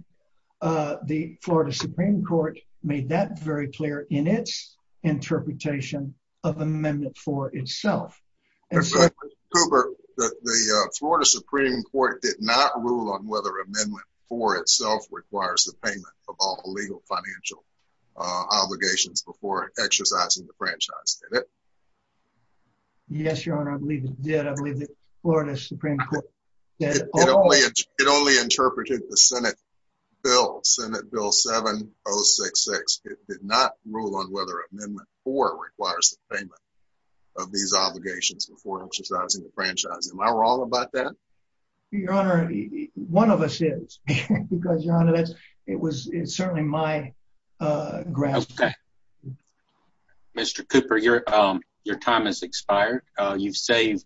The Florida Supreme Court made that very clear in its interpretation of Amendment 4 itself. Mr. Cooper, the Florida Supreme Court did not rule on whether Amendment 4 itself requires the payment of all legal financial obligations before exercising the franchise, did it? Yes, Your Honor, I believe it did. I believe the Florida Supreme Court did. It only interpreted the Senate bill, Senate Bill 7066. It did not rule on whether Amendment 4 requires the payment of these obligations before exercising the franchise. Mr. Cooper, your time has expired. You've saved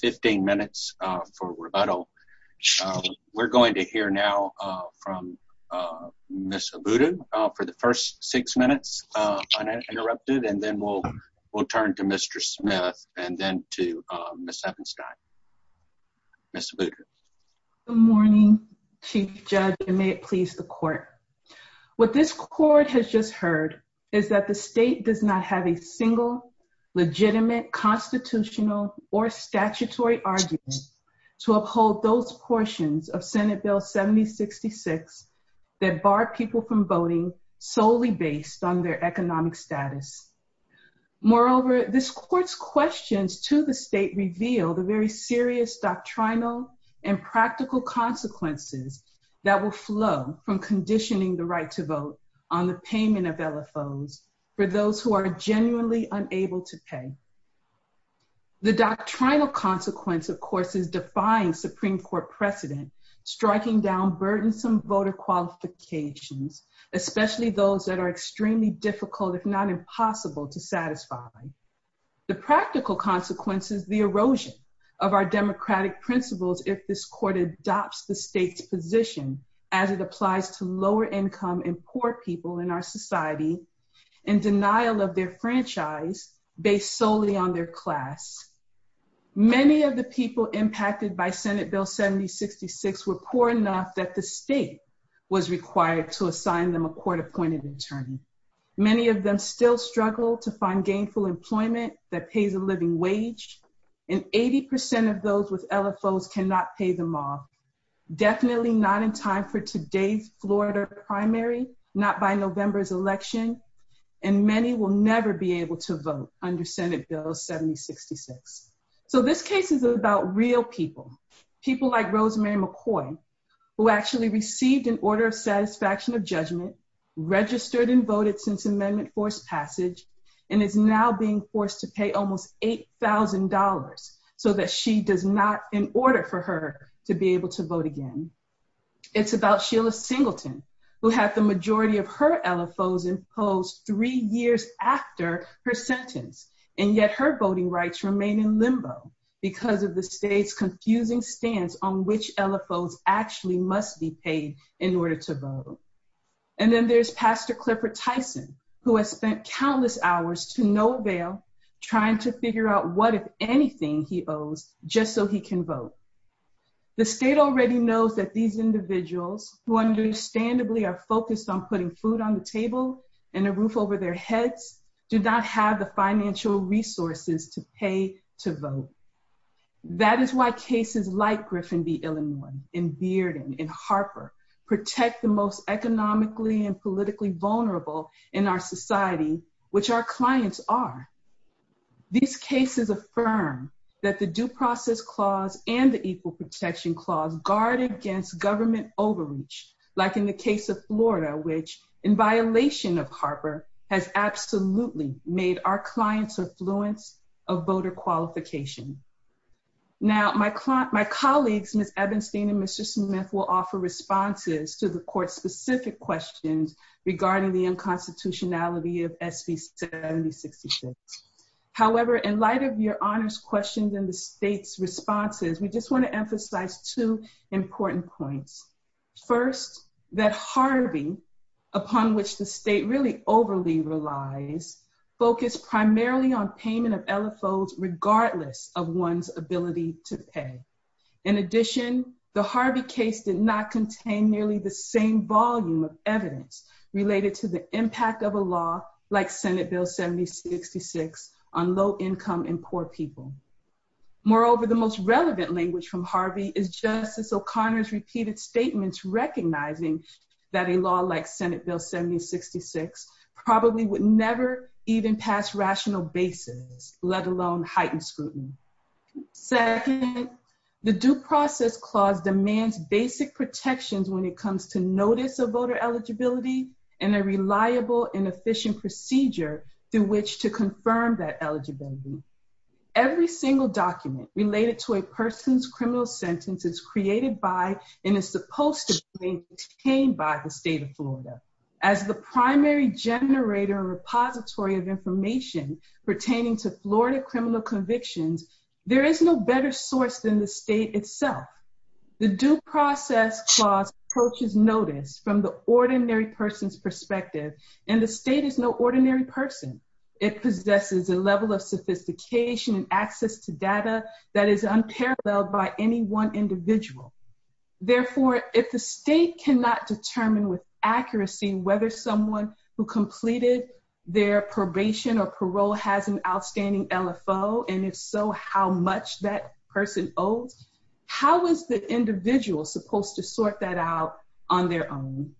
15 minutes for rebuttal. We're going to hear now from Ms. Abudu for the first six minutes uninterrupted, and then we'll turn it over to you. Good morning, Chief Judge, and may it please the court. What this court has just heard is that the state does not have a single legitimate constitutional or statutory argument to uphold those portions of Senate Bill 7066 that bar people from voting solely based on their economic status. Moreover, this court's questions to the state reveal the serious doctrinal and practical consequences that will flow from conditioning the right to vote on the payment of LFOs for those who are genuinely unable to pay. The doctrinal consequence, of course, is defying Supreme Court precedent, striking down burdensome voter qualifications, especially those that are extremely difficult, if not impossible, to satisfy. The practical consequence is the erosion of our democratic principles if this court adopts the state's position as it applies to lower income and poor people in our society in denial of their franchise based solely on their class. Many of the people impacted by Senate Bill 7066 were poor enough that the state was required to assign them a court-appointed attorney. Many of them still struggle to find gainful employment that pays a living wage, and 80 percent of those with LFOs cannot pay them off, definitely not in time for today's Florida primary, not by November's election, and many will never be able to vote under Senate Bill 7066. So this case is about real people, people like Rosemary McCoy, who actually received an LFO, registered and voted since Amendment Force passage, and is now being forced to pay almost $8,000 so that she does not, in order for her to be able to vote again. It's about Sheila Singleton, who had the majority of her LFOs imposed three years after her sentence, and yet her voting rights remain in limbo because of the state's confusing stance on which LFOs actually must be paid in order to vote. And then there's Pastor Clifford Tyson, who has spent countless hours to no avail trying to figure out what, if anything, he owes just so he can vote. The state already knows that these individuals, who understandably are focused on putting food on the table and a roof over their heads, do not have the financial resources to pay to vote. That is why cases like Griffin v. Illinois and Bearden and Harper protect the most economically and politically vulnerable in our society, which our clients are. These cases affirm that the Due Process Clause and the Equal Protection Clause guard against government overreach, like in the case of Florida, which, in violation of Harper, has absolutely made our clients affluent of voter qualification. Now, my colleagues, Ms. Ebenstein and Mr. Smith, will offer responses to the court-specific questions regarding the unconstitutionality of SB 7066. However, in light of your honors questions and the state's responses, we just want to emphasize two important points. First, that Harvey, upon which the state really overly relies, focused primarily on payment of LFOs regardless of one's ability to pay. In addition, the Harvey case did not contain nearly the same volume of evidence related to the impact of a law like Senate Bill 7066 on low-income and poor people. Moreover, the most relevant language from Harvey is Justice O'Connor's repeated statements recognizing that a law like Senate Bill 7066 probably would never even pass rational basis, let alone heightened scrutiny. Second, the Due Process Clause demands basic protections when it comes to notice of voter eligibility and a reliable and efficient procedure through which to confirm that eligibility. Every single document related to a person's criminal sentence is created by and is supposed to be obtained by the state of Florida as the primary generator and repository of information pertaining to Florida criminal convictions. There is no better source than the state itself. The Due Process Clause approaches notice from the ordinary person's perspective, and the state is no ordinary person. It possesses a level of sophistication and access to data that is unparalleled by any one individual. Therefore, if the state cannot determine with or parole has an outstanding LFO, and if so, how much that person owes, how is the individual supposed to sort that out on their own?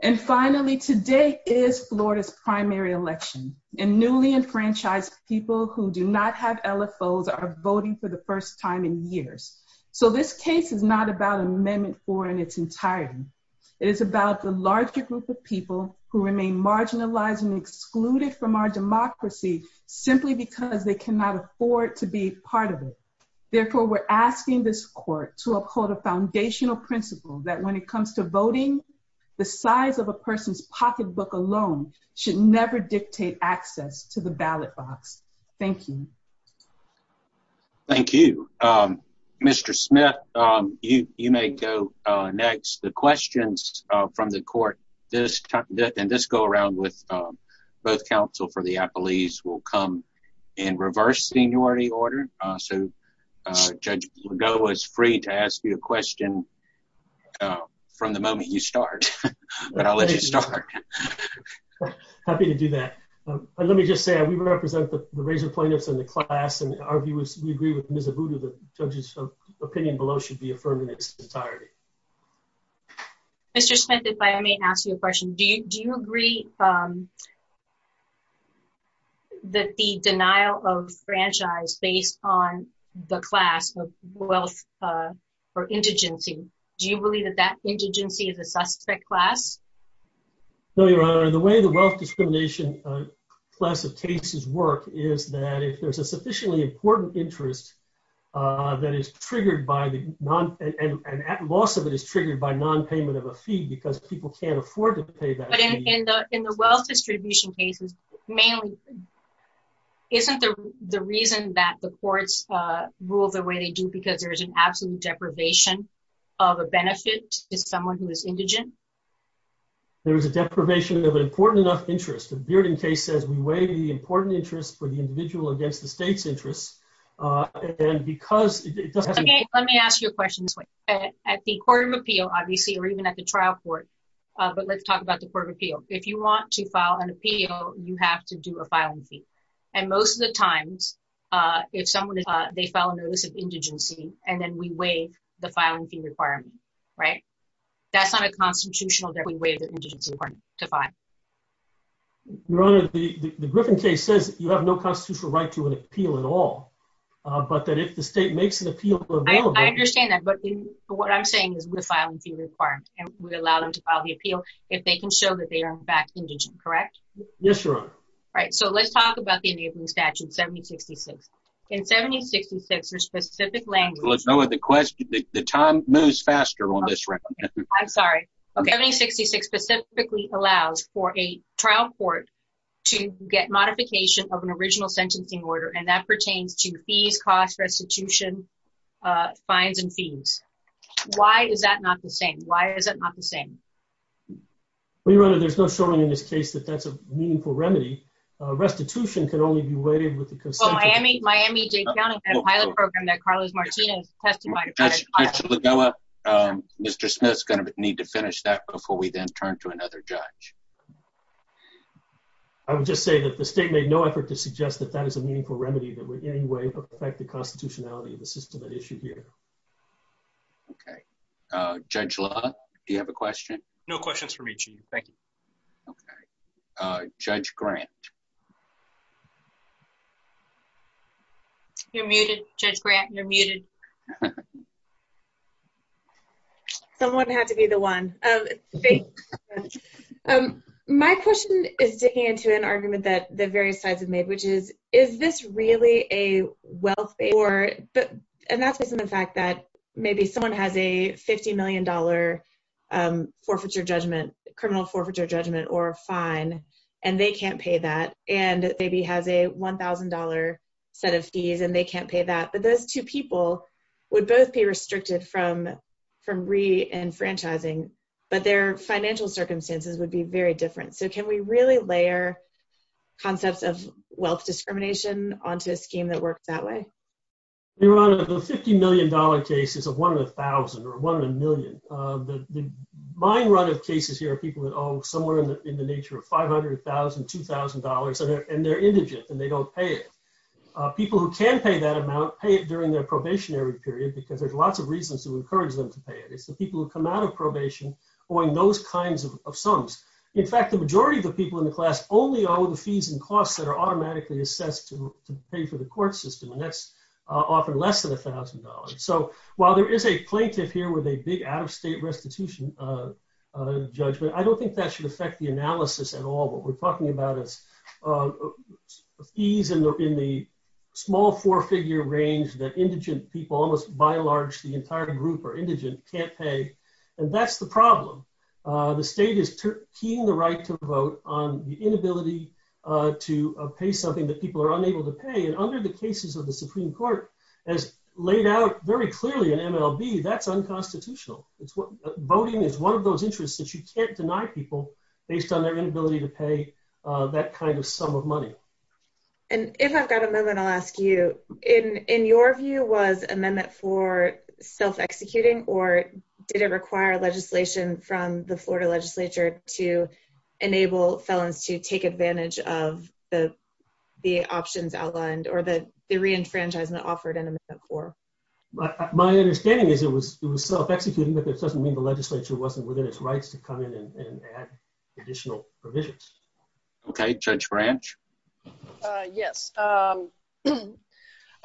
And finally, today is Florida's primary election, and newly enfranchised people who do not have LFOs are voting for the first time in years. So this case is not about Amendment 4 in its entirety. It is about the larger group of people who remain marginalized and excluded from our democracy simply because they cannot afford to be part of it. Therefore, we're asking this court to uphold a foundational principle that when it comes to voting, the size of a person's pocketbook alone should never dictate access to the ballot box. Thank you. Thank you. Mr. Smith, you may go next. The questions from the court, and this go-around with both counsel for the appellees will come in reverse seniority order. So Judge Legault is free to ask you a question from the moment you start, but I'll let you start. Happy to do that. Let me just say, we represent the raising plaintiffs in the class, and our view is we agree with Ms. Abudu that opinion below should be affirmed in its entirety. Mr. Smith, if I may ask you a question, do you agree that the denial of franchise based on the class of wealth or indigency, do you believe that that indigency is a suspect class? No, Your Honor. The way the wealth discrimination class of cases work is that if there's a sufficiently important interest that is triggered by the non, and at loss of it is triggered by nonpayment of a fee because people can't afford to pay that fee. But in the wealth distribution cases, mainly, isn't the reason that the courts rule the way they do because there's an absolute deprivation of a benefit if someone who is indigent? There's a deprivation of an important enough interest. The Bearding case says we weigh the important interest for the individual against the state's interest, and because- Okay, let me ask you a question. At the court of appeal, obviously, or even at the trial court, but let's talk about the court of appeal. If you want to file an appeal, you have to do a filing fee. And most of the times, if someone, they file an illicit indigency, and then we weigh the filing fee requirement, right? That's not a constitutional that we weigh the indigency requirement to file. Your Honor, the Griffin case says that you have no constitutional right to an appeal at all, but that if the state makes an appeal for- I understand that, but what I'm saying is we're filing fee requirements, and we allow them to file the appeal if they can show that they are, in fact, indigent, correct? Yes, Your Honor. All right, so let's talk about the indigent statute 7066. In 7066, there's specific language- The time moves faster on this one. I'm sorry. 7066 specifically allows for a trial court to get modification of an original sentencing order, and that pertains to fees, costs, restitution, fines, and fees. Why is that not the same? Why is it not the same? Well, Your Honor, there's not showing in this case that that's a meaningful remedy. Restitution can only be waived with the- Well, Miami- Miami-Jay County has a pilot program that Carlos Martinez testified- Mr. LaBella, Mr. Smith's going to need to finish that before we then turn to another judge. I would just say that the state made no effort to suggest that that is a meaningful remedy that would in any way affect the constitutionality of the system at issue here. Okay. Judge La, do you have a question? No questions for me, Chief. Thank you. Okay. Judge Grant. You're muted, Judge Grant. You're muted. Someone had to be the one. My question is digging into an argument that the various sides have made, which is, is this really a welfare- And that's based on the fact that maybe someone has a $50 million forfeiture judgment, criminal forfeiture judgment, or a fine, and they can't pay that, and maybe has a $1,000 set of fees and they can't pay that. But those two people would both be restricted from re-enfranchising, but their financial circumstances would be very different. So can we really layer concepts of wealth discrimination onto a scheme that works that way? Your Honor, the $50 million cases of one in 1,000 or one in a million, mine run of cases here are people that owe somewhere in the nature of $500,000, $2,000, and they're indigent and they don't pay it. People who can pay that amount pay it during their probationary period because there's lots of reasons to encourage them to pay it. It's the people who come out of probation owing those kinds of sums. In fact, the majority of the people in the class only owe the fees and costs that are automatically assessed to pay for the court system, and that's often less than $1,000. So while there is a plaintiff here with a big out-of-state restitution judgment, I don't think that should affect the analysis at all. What we're talking about is fees in the small four-figure range that indigent people, almost by and large the entire group are indigent, can't pay, and that's the problem. The state is keying the right to vote on the inability to pay something that people are unable to pay, and under the cases of the Supreme Court, as laid out very clearly in MLB, that's unconstitutional. Voting is one of those interests that you can't deny people based on their inability to pay that kind of sum of money. And if I've got a moment, I'll ask you, in your view, was amendment for self-executing or did it require legislation from the Florida legislature to enable felons to take advantage of the options outlined or the re-enfranchisement offered in the core? My understanding is it was self-executing, but that doesn't mean the legislature wasn't within its rights to come in and add additional provisions. Okay, Judge Branch? Yes. Okay.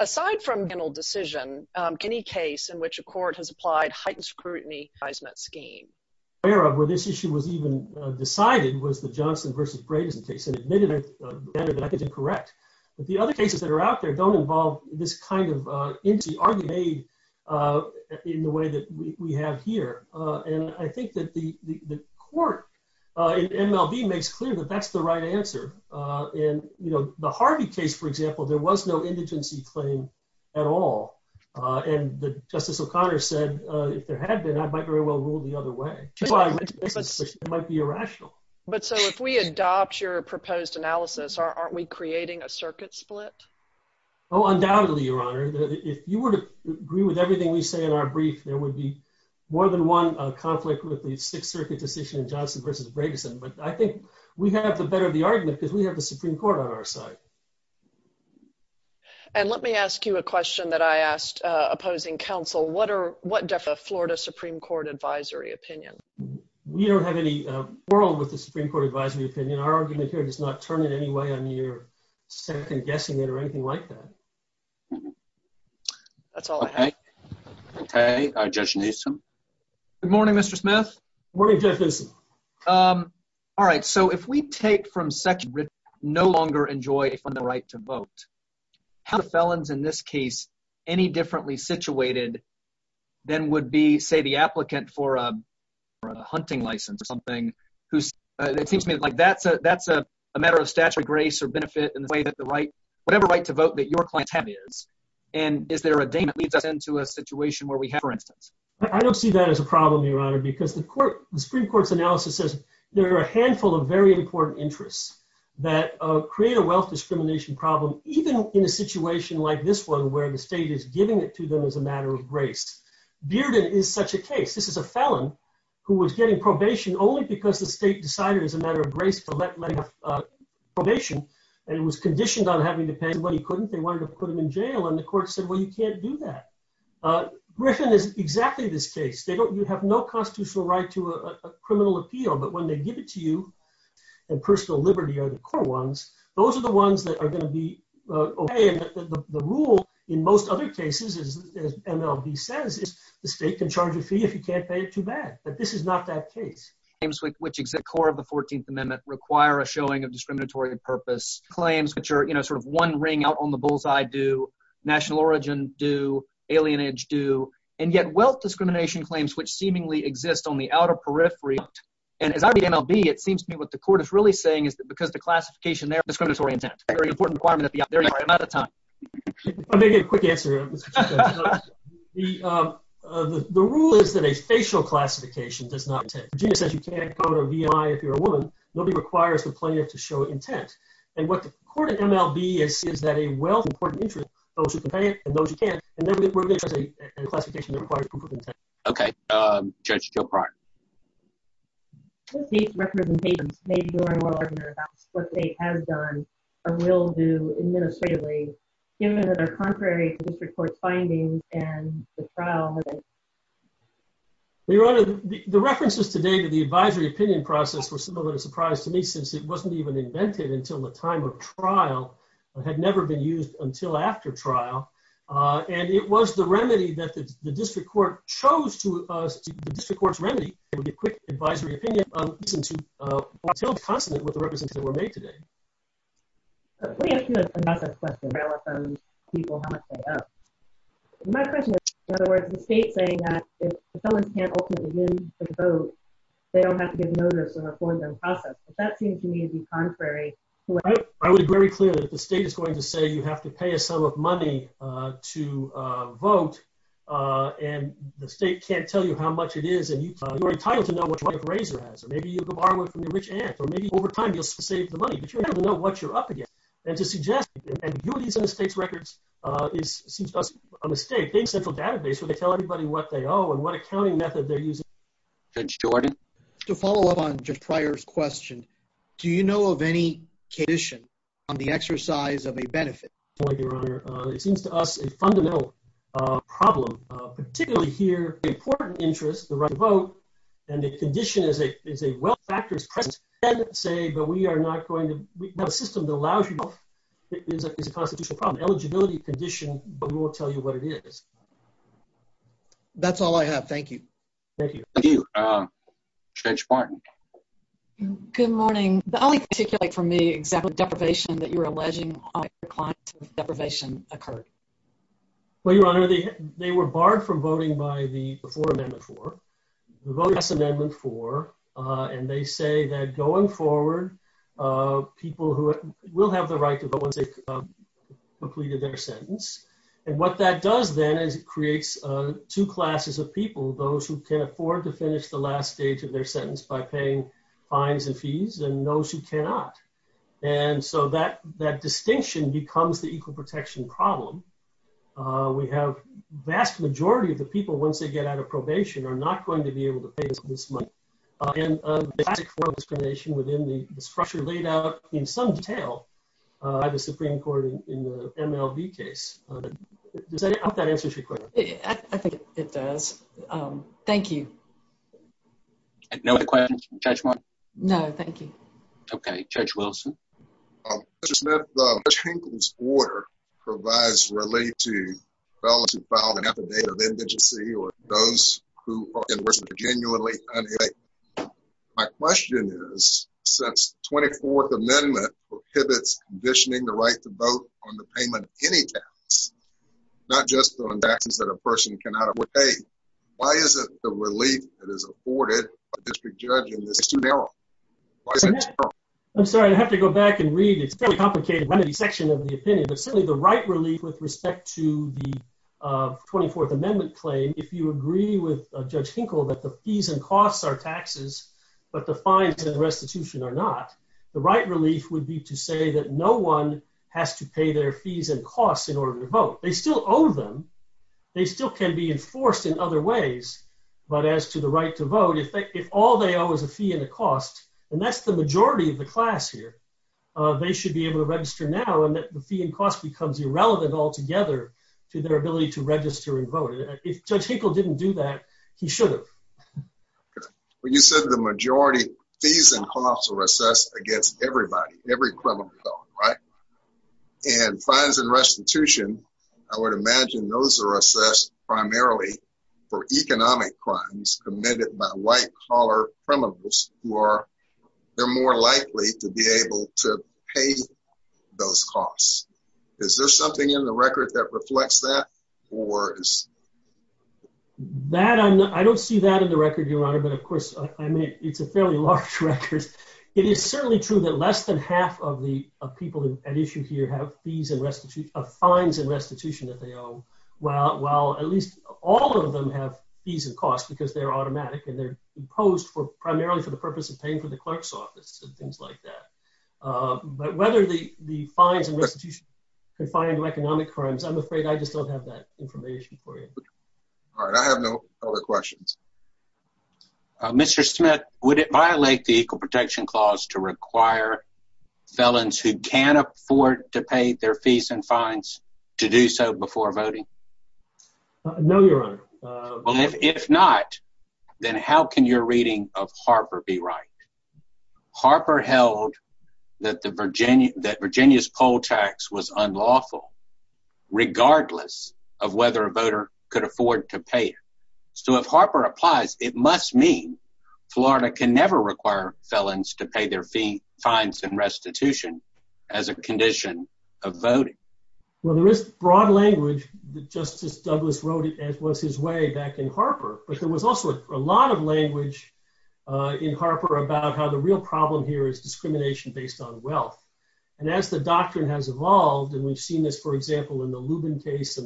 Aside from a criminal decision, any case in which a court has applied heightened scrutiny seismic scheme? Where this issue was even decided was the Johnston v. Brazen case, and admittedly, better that I could be correct. But the other cases that are out there don't involve this kind of empty argument in the way that we have here. And I think that the court in MLB makes clear that that's the right answer. And the Harvey case, for example, there was no indigency claim at all. And Justice O'Connor said, if there had been, I might very well rule the other way. It might be irrational. But so if we adopt your proposed analysis, aren't we creating a circuit split? Oh, undoubtedly, Your Honor. If you were to agree with everything we say in our brief, there would be more than one conflict with the circuit decision in Johnston v. Brazen. But I think we have the better of the argument because we have the Supreme Court on our side. And let me ask you a question that I asked opposing counsel. What are, what does the Florida Supreme Court advisory opinion? We don't have any quarrel with the Supreme Court advisory opinion. Our argument here does not turn in any way on your second guessing it or anything like that. That's all I have. Okay. Good morning, Mr. Smith. All right. So if we take from section no longer enjoy the right to vote, how felons in this case, any differently situated than would be, say, the applicant for a hunting license or something. That seems to me like that's a matter of stature, grace, or benefit in the way that the right, whatever right to vote that your client have is. And is there a day that leads up into a situation where we have, for instance? I don't see that as a problem, Your Honor, because the Supreme Court's analysis says there are a handful of very important interests that create a wealth discrimination problem, even in a situation like this one, where the state is giving it to them as a matter of grace. Bearden is such a case. This is a felon who was getting probation only because the state decided as a matter of grace to let him have probation. And he was conditioned on having to pay what he wanted. They wanted to put him in jail. And the court said, well, you can't do that. Griffin is exactly this case. You have no constitutional right to a criminal appeal. But when they give it to you, and personal liberty are the core ones, those are the ones that are going to be okay. And the rule in most other cases, as MLB says, is the state can charge a fee if you can't pay it too bad. But this is not that case. Which is the core of the 14th Amendment, require a showing of discriminatory purpose claims, which are sort of one ring out on the bullseye do, national origin do, alienage do, and yet wealth discrimination claims, which seemingly exist on the outer periphery. And at IBM LB, it seems to me what the court is really saying is that because the classification, they're discriminatory intent. Very important. I'm going to get a quick answer. The rule is that a facial classification does not exist. You can't call it a VI if you're a woman. Nobody requires the plaintiff to show intent. And what the court of MLB is, is that a wealth important interest goes with the plaintiff and knows you can't. Okay. Judge Gilbride. These representations may be more important about what the state has done or will do administratively, given that they're contrary to the court's findings and the trial. Your Honor, the references today to the advisory opinion process was a little bit of a surprise to me, since it wasn't even invented until the time of trial. It had never been used until after trial. And it was the remedy that the district court chose to us, the district court's remedy, it would be a quick advisory opinion until confident with the representations that were made today. Let me ask you another question, relevant to people halfway up. My question was, in other words, the state saying that if someone can't ultimately win the vote, they don't have to get murdered for the forensic process. That seems to me to be contrary. I was very clear that the state is going to say you have to pay a sum of money to vote, and the state can't tell you how much it is, and you're entitled to know what your wife or raiser has, or maybe you can borrow it from your rich aunt, or maybe over time you'll save the money, but you have to know what you're up against. As a suggestion, and viewing these state's records, it seems to us, on the state's database, would they tell anybody what they owe and what accounting method they're using? Judge Jordan? To follow up on Judge Pryor's question, do you know of any condition on the exercise of a benefit? It seems to us a fundamental problem, particularly here, the important interest, the right to vote, and the condition is a wealth factor. We have a system that allows you to vote. It's a constitutional problem. Eligibility condition, but we won't tell you what it is. That's all I have. Thank you. Thank you. Thank you. Judge Martin? Good morning. I'd like to take it from the example of deprivation, that you're alleging that deprivation occurred. Well, Your Honor, they were barred from voting before Amendment 4, the vote of Amendment 4, and they say that going forward, people who will have the right to vote if they've completed their sentence. What that does, then, is it creates two classes of people, those who can afford to finish the last stage of their sentence by paying fines and fees, and those who cannot. That distinction becomes the equal protection problem. We have a vast majority of the people, once they get out of probation, are not going to be able to pay this money. I think it does. Thank you. No other questions from Judge Martin? No, Your Honor. My question is, since the 24th Amendment prohibits conditioning the right to vote on the payment of any tax, not just on taxes that a person cannot afford to pay, why isn't the relief that is afforded by the district judge in this suit held? I'm sorry, I'd have to go back and read. It's a fairly complicated section of the opinion, but certainly the right relief with respect to the 24th Amendment claim, if you agree with Judge Hinkle that the fees and costs are taxes, but the fines and restitution are not, the right relief would be to say that no one has to pay their fees and costs in order to vote. They still own them. They still can be enforced in other ways, but as to the right to vote, if all they owe is a fee and a cost, and that's the majority of the class here, they should be able to register now and that the fee and cost becomes irrelevant altogether to their ability to register and vote. If Judge Hinkle didn't do that, he should have. Okay. Well, you said the majority fees and costs are assessed against everybody, every criminal felon, right? And fines and restitution, I would imagine those are assessed primarily for economic crimes committed by white-collar criminals who are more likely to be able to pay those costs. Is there something in the record that reflects that? I don't see that in the record, Your Honor, but of course, it's a fairly large record. It is certainly true that less than half of the people at issue here have fines and restitution that they owe, while at least all of them have fees and costs because they're automatic and they're imposed primarily for the purpose of paying for the clerk's office and things like that. But whether the fines and restitution can find economic crimes, I'm afraid I just don't have that information for you. All right. I have no other questions. Mr. Smith, would it violate the Equal Protection Clause to require felons who can afford to pay their fees and fines to do so before voting? No, Your Honor. Well, if not, then how can your reading of Harper be right? Harper held that Virginia's poll tax was unlawful, regardless of whether a voter could afford to pay it. So if Harper applies, it must mean Florida can never require felons to pay their fee, fines, and restitution as a condition of voting. Well, there is broad language that Justice Douglas wrote as was his way back in Harper, but there was also a lot of language in Harper about how the real problem here is discrimination based on wealth. And as the doctrine has evolved, and we've seen this, for example, in the Lubin case.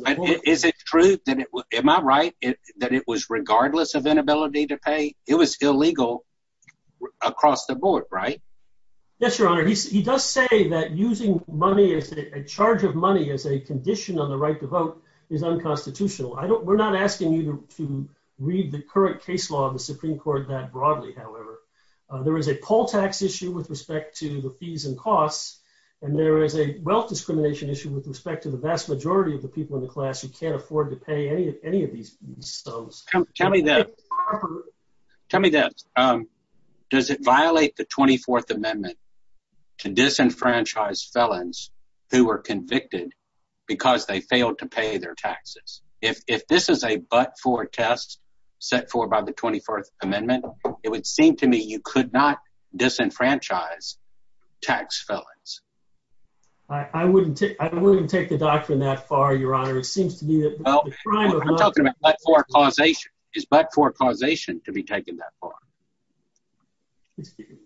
Is it true, am I right, that it was regardless of inability to pay? It was illegal across the board, right? Yes, Your Honor. He does say that using money as a charge of money as a condition of the right to vote is unconstitutional. We're not asking you to read the current case law of the Supreme Court that broadly, however. There is a poll tax issue with respect to the fees and costs, and there is a wealth discrimination issue with respect to the vast majority of the people in the class who can't afford to pay any of these things. Tell me this. Does it violate the 24th Amendment to disenfranchise felons who were convicted because they failed to pay their taxes? If this is a but-for test set for by the 24th Amendment, it would seem to me you could not disenfranchise tax felons. I wouldn't take a doctrine that far, Your Honor. It seems to me that the crime of not- Well, I'm talking about but-for causation. Is but-for causation to be taken that far?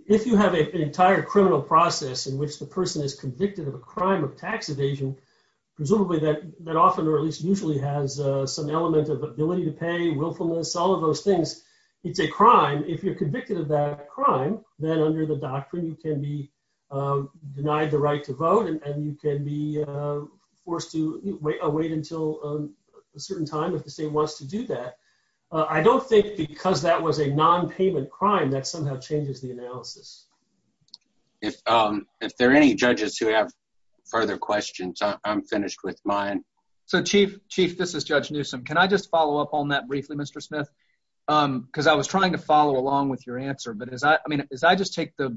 If you have an entire criminal process in which the person is convicted of a crime of tax evasion, presumably that often, or at least usually, has some element of ability to pay, willfulness, all of those things. It's a crime. If you're convicted of that crime, then under the doctrine, you can be forced to wait until a certain time if the state wants to do that. I don't think because that was a non-payment crime that somehow changes the analysis. If there are any judges who have further questions, I'm finished with mine. So, Chief, this is Judge Newsom. Can I just follow up on that briefly, Mr. Smith? Because I was trying to follow along with your answer. But as I just take the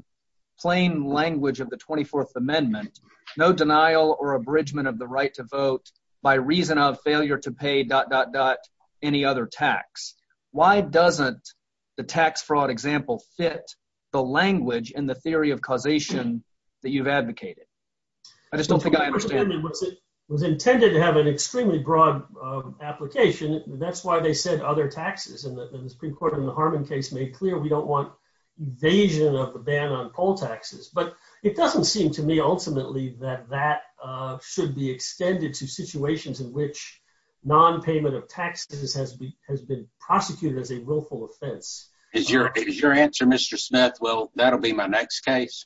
language of the 24th Amendment, no denial or abridgment of the right to vote by reason of failure to pay dot, dot, dot, any other tax. Why doesn't the tax fraud example fit the language and the theory of causation that you've advocated? I just don't think I understand. It was intended to have an extremely broad application. That's why they said other taxes. And the Supreme Court in the Harmon case made clear we don't want evasion of a ban on poll taxes. But it doesn't seem to me, ultimately, that that should be extended to situations in which non-payment of taxes has been prosecuted as a willful offense. Is your answer, Mr. Smith, well, that'll be my next case?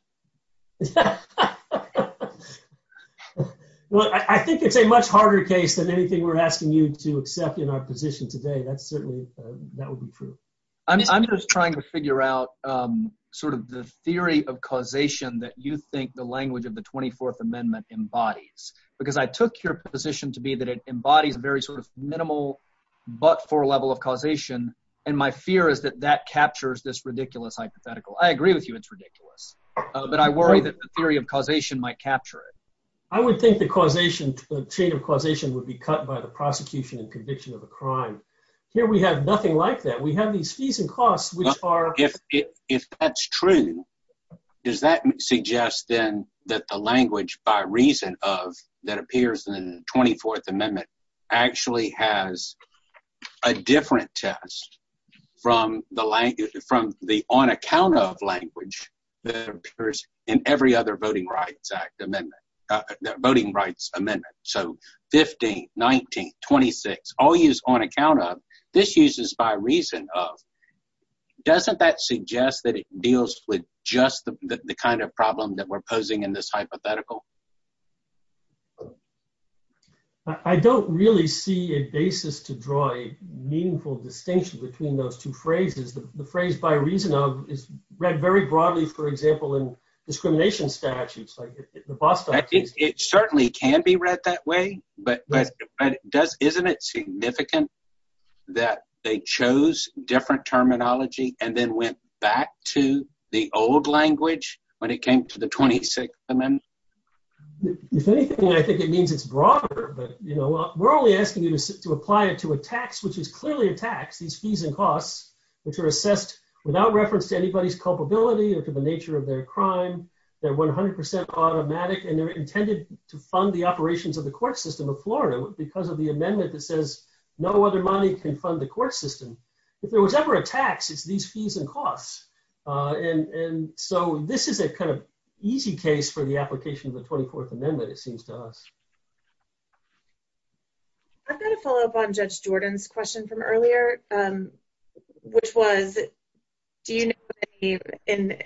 Well, I think it's a much harder case than anything we're asking you to accept in our position today. That's certainly, that would be true. I'm just trying to figure out sort of the theory of causation that you think the language of the 24th Amendment embodies. Because I took your position to be that it embodies a very sort of minimal but-for level of causation. And my fear is that that captures this ridiculous hypothetical. I agree with you it's ridiculous. But I worry that the theory of causation might capture it. I would think the causation, the change of causation would be cut by the prosecution and conviction of a crime. Here we have nothing like that. We have these fees and costs which are If that's true, does that suggest then that the language by reason of that appears in the 24th Amendment actually has a different test from the on account of language that appears in every other amendment? Voting Rights Amendment. So 15, 19, 26, all used on account of. This uses by reason of. Doesn't that suggest that it deals with just the kind of problem that we're posing in this hypothetical? I don't really see a basis to draw a meaningful distinction between those two phrases. The phrase by reason of is read very broadly, for example, in discrimination statutes. It certainly can be read that way. But isn't it significant that they chose different terminology and then went back to the old language when it came to the 26th Amendment? If anything, I think it means it's broader. We're only asking you to apply it to a tax, which is clearly a tax. These fees and costs, which are assessed without reference to anybody's culpability or to the nature of their crime. They're 100% automatic and they're intended to fund the operations of the court system of Florida because of the amendment that says no other money can fund the court system. If there was ever a tax, it's these fees and costs. And so this is a kind of easy case for the application of the 24th Amendment, it seems to us. I've got a follow-up on Judge Jordan's question from earlier, which was, do you know of any and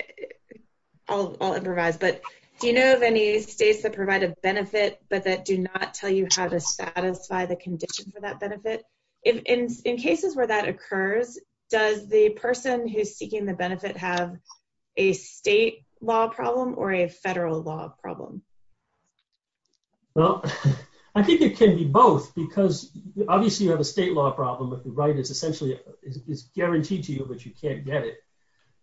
I'll improvise, but do you know of any states that provide a benefit but that do not tell you how to satisfy the conditions of that benefit? In cases where that occurs, does the person who's seeking the benefit have a state law problem or a federal law problem? Well, I think it can be both because obviously you have a state law problem, but the right is essentially, it's guaranteed to you, but you can't get it.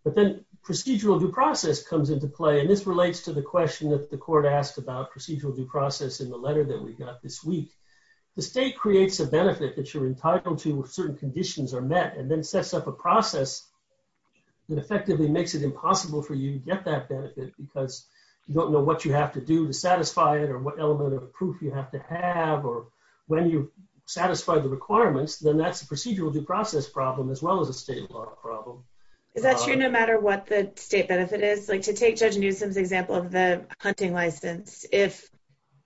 But then procedural due process comes into play. And this relates to the question that the court asked about procedural due process in the letter that we got this week. The state creates a benefit that you're entitled to when certain conditions are met and then sets up a process that effectively makes it impossible for you to get that benefit because you don't know what you have to do to satisfy it or what element of proof you have to have or when you satisfy the requirements, then that's a procedural due process problem as well as a state law problem. Is that true no matter what the state benefit is? Like to take Judge Newsom's example of the hunting license, if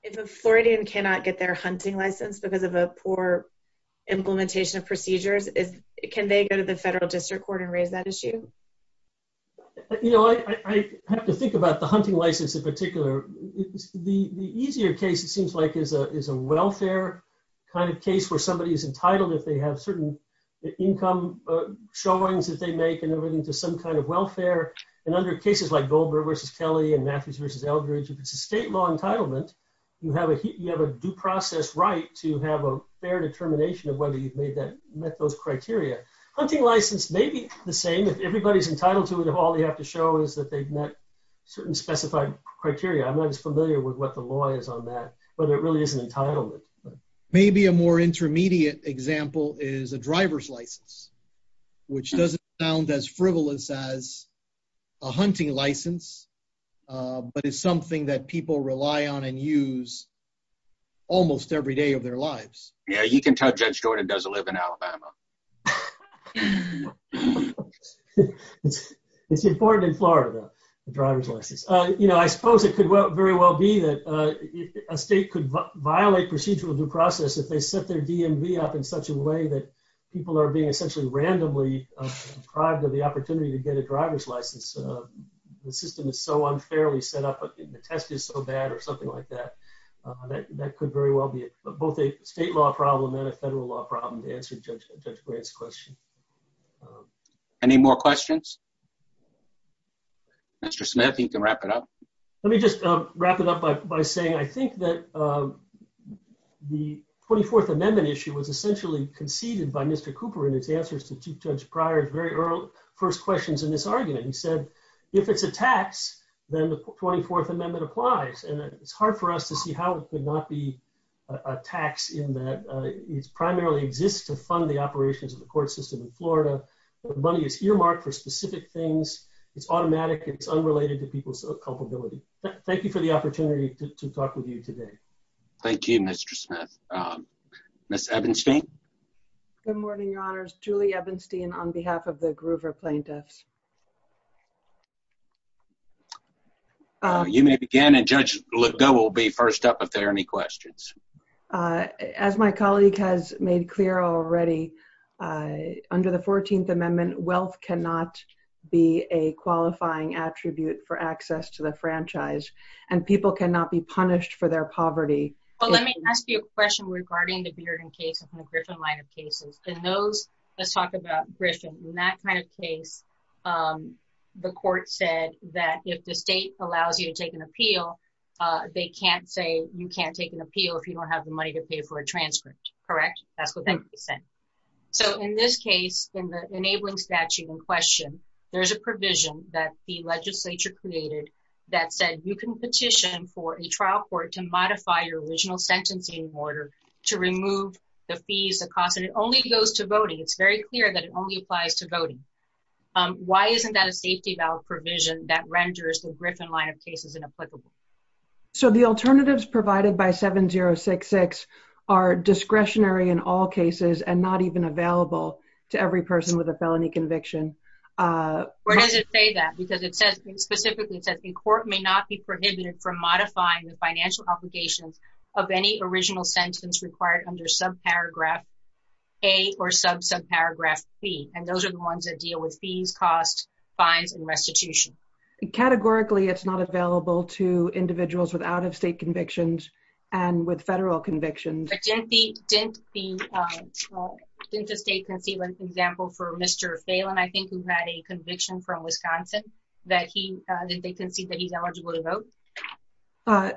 a Floridian cannot get their hunting license because of a poor implementation of procedures, can they go to federal district court and raise that issue? I have to think about the hunting license in particular. The easier case it seems like is a welfare kind of case where somebody is entitled if they have certain income showings that they make and everything to some kind of welfare. And under cases like Goldberg versus Kelly and Matthews versus Eldridge, if it's a state law entitlement, you have a due process right to have a fair determination of whether you've met those criteria. Hunting license may be the same if everybody's entitled to it if all they have to show is that they've met certain specified criteria. I'm not as familiar with what the law is on that, whether it really is an entitlement. Maybe a more intermediate example is a driver's license, which doesn't sound as frivolous as a hunting license, but it's something that people rely on and use almost every day of their lives. Yeah, you can tell Judge Jordan doesn't live in Florida. It's important in Florida, the driver's license. I suppose it could very well be that a state could violate procedural due process if they set their DMV up in such a way that people are being essentially randomly deprived of the opportunity to get a driver's license. The system is so unfairly set up, the test is so bad or something like that. That could very well be both a state law problem and a federal law problem to answer, Judge Gray's question. Any more questions? Mr. Smith, you can wrap it up. Let me just wrap it up by saying I think that the 24th Amendment issue was essentially conceded by Mr. Cooper in his answers to Chief Judge Pryor's very early first questions in his argument. He said, if it's a tax, then the 24th Amendment applies. It's hard for us to see how it could not be a tax in that it primarily exists to fund the operations of the court system in Florida. The money is earmarked for specific things. It's automatic. It's unrelated to people's culpability. Thank you for the opportunity to talk with you today. Thank you, Mr. Smith. Ms. Ebenstein? Good morning, Your Honors. Julie Ebenstein on behalf of the Groover plaintiffs. You may begin, and Judge Liddell will be first up if there are any questions. As my colleague has made clear already, under the 14th Amendment, wealth cannot be a qualifying attribute for access to the franchise, and people cannot be punished for their poverty. Well, let me ask you a question regarding the Bearden cases and the Griffin-Leiter cases. In those that talk about Griffin, in that kind of case, the court said that if the state allows you to take an appeal, they can't say you can't take an appeal if you don't have the money to pay for a transcript, correct? That's what they said. So, in this case, in the enabling statute in question, there's a provision that the legislature created that said you can petition for a trial court to modify your original sentencing order to remove the fees, the cost, and it only goes to voting. It's very clear that it only applies to why isn't that a safety valve provision that renders the Griffin-Leiter cases inapplicable? So, the alternatives provided by 7066 are discretionary in all cases and not even available to every person with a felony conviction. Where does it say that? Because it says, it specifically says, in court may not be prohibited from modifying the financial obligation of any original sentence required under subparagraph A or subsubparagraph C, and those are the ones that deal with fees, costs, fines, and restitution. Categorically, it's not available to individuals with out-of-state convictions and with federal convictions. Since the state conceded, for example, for Mr. Phelan, I think he had a conviction from Wisconsin that he, did they concede that he's eligible to vote?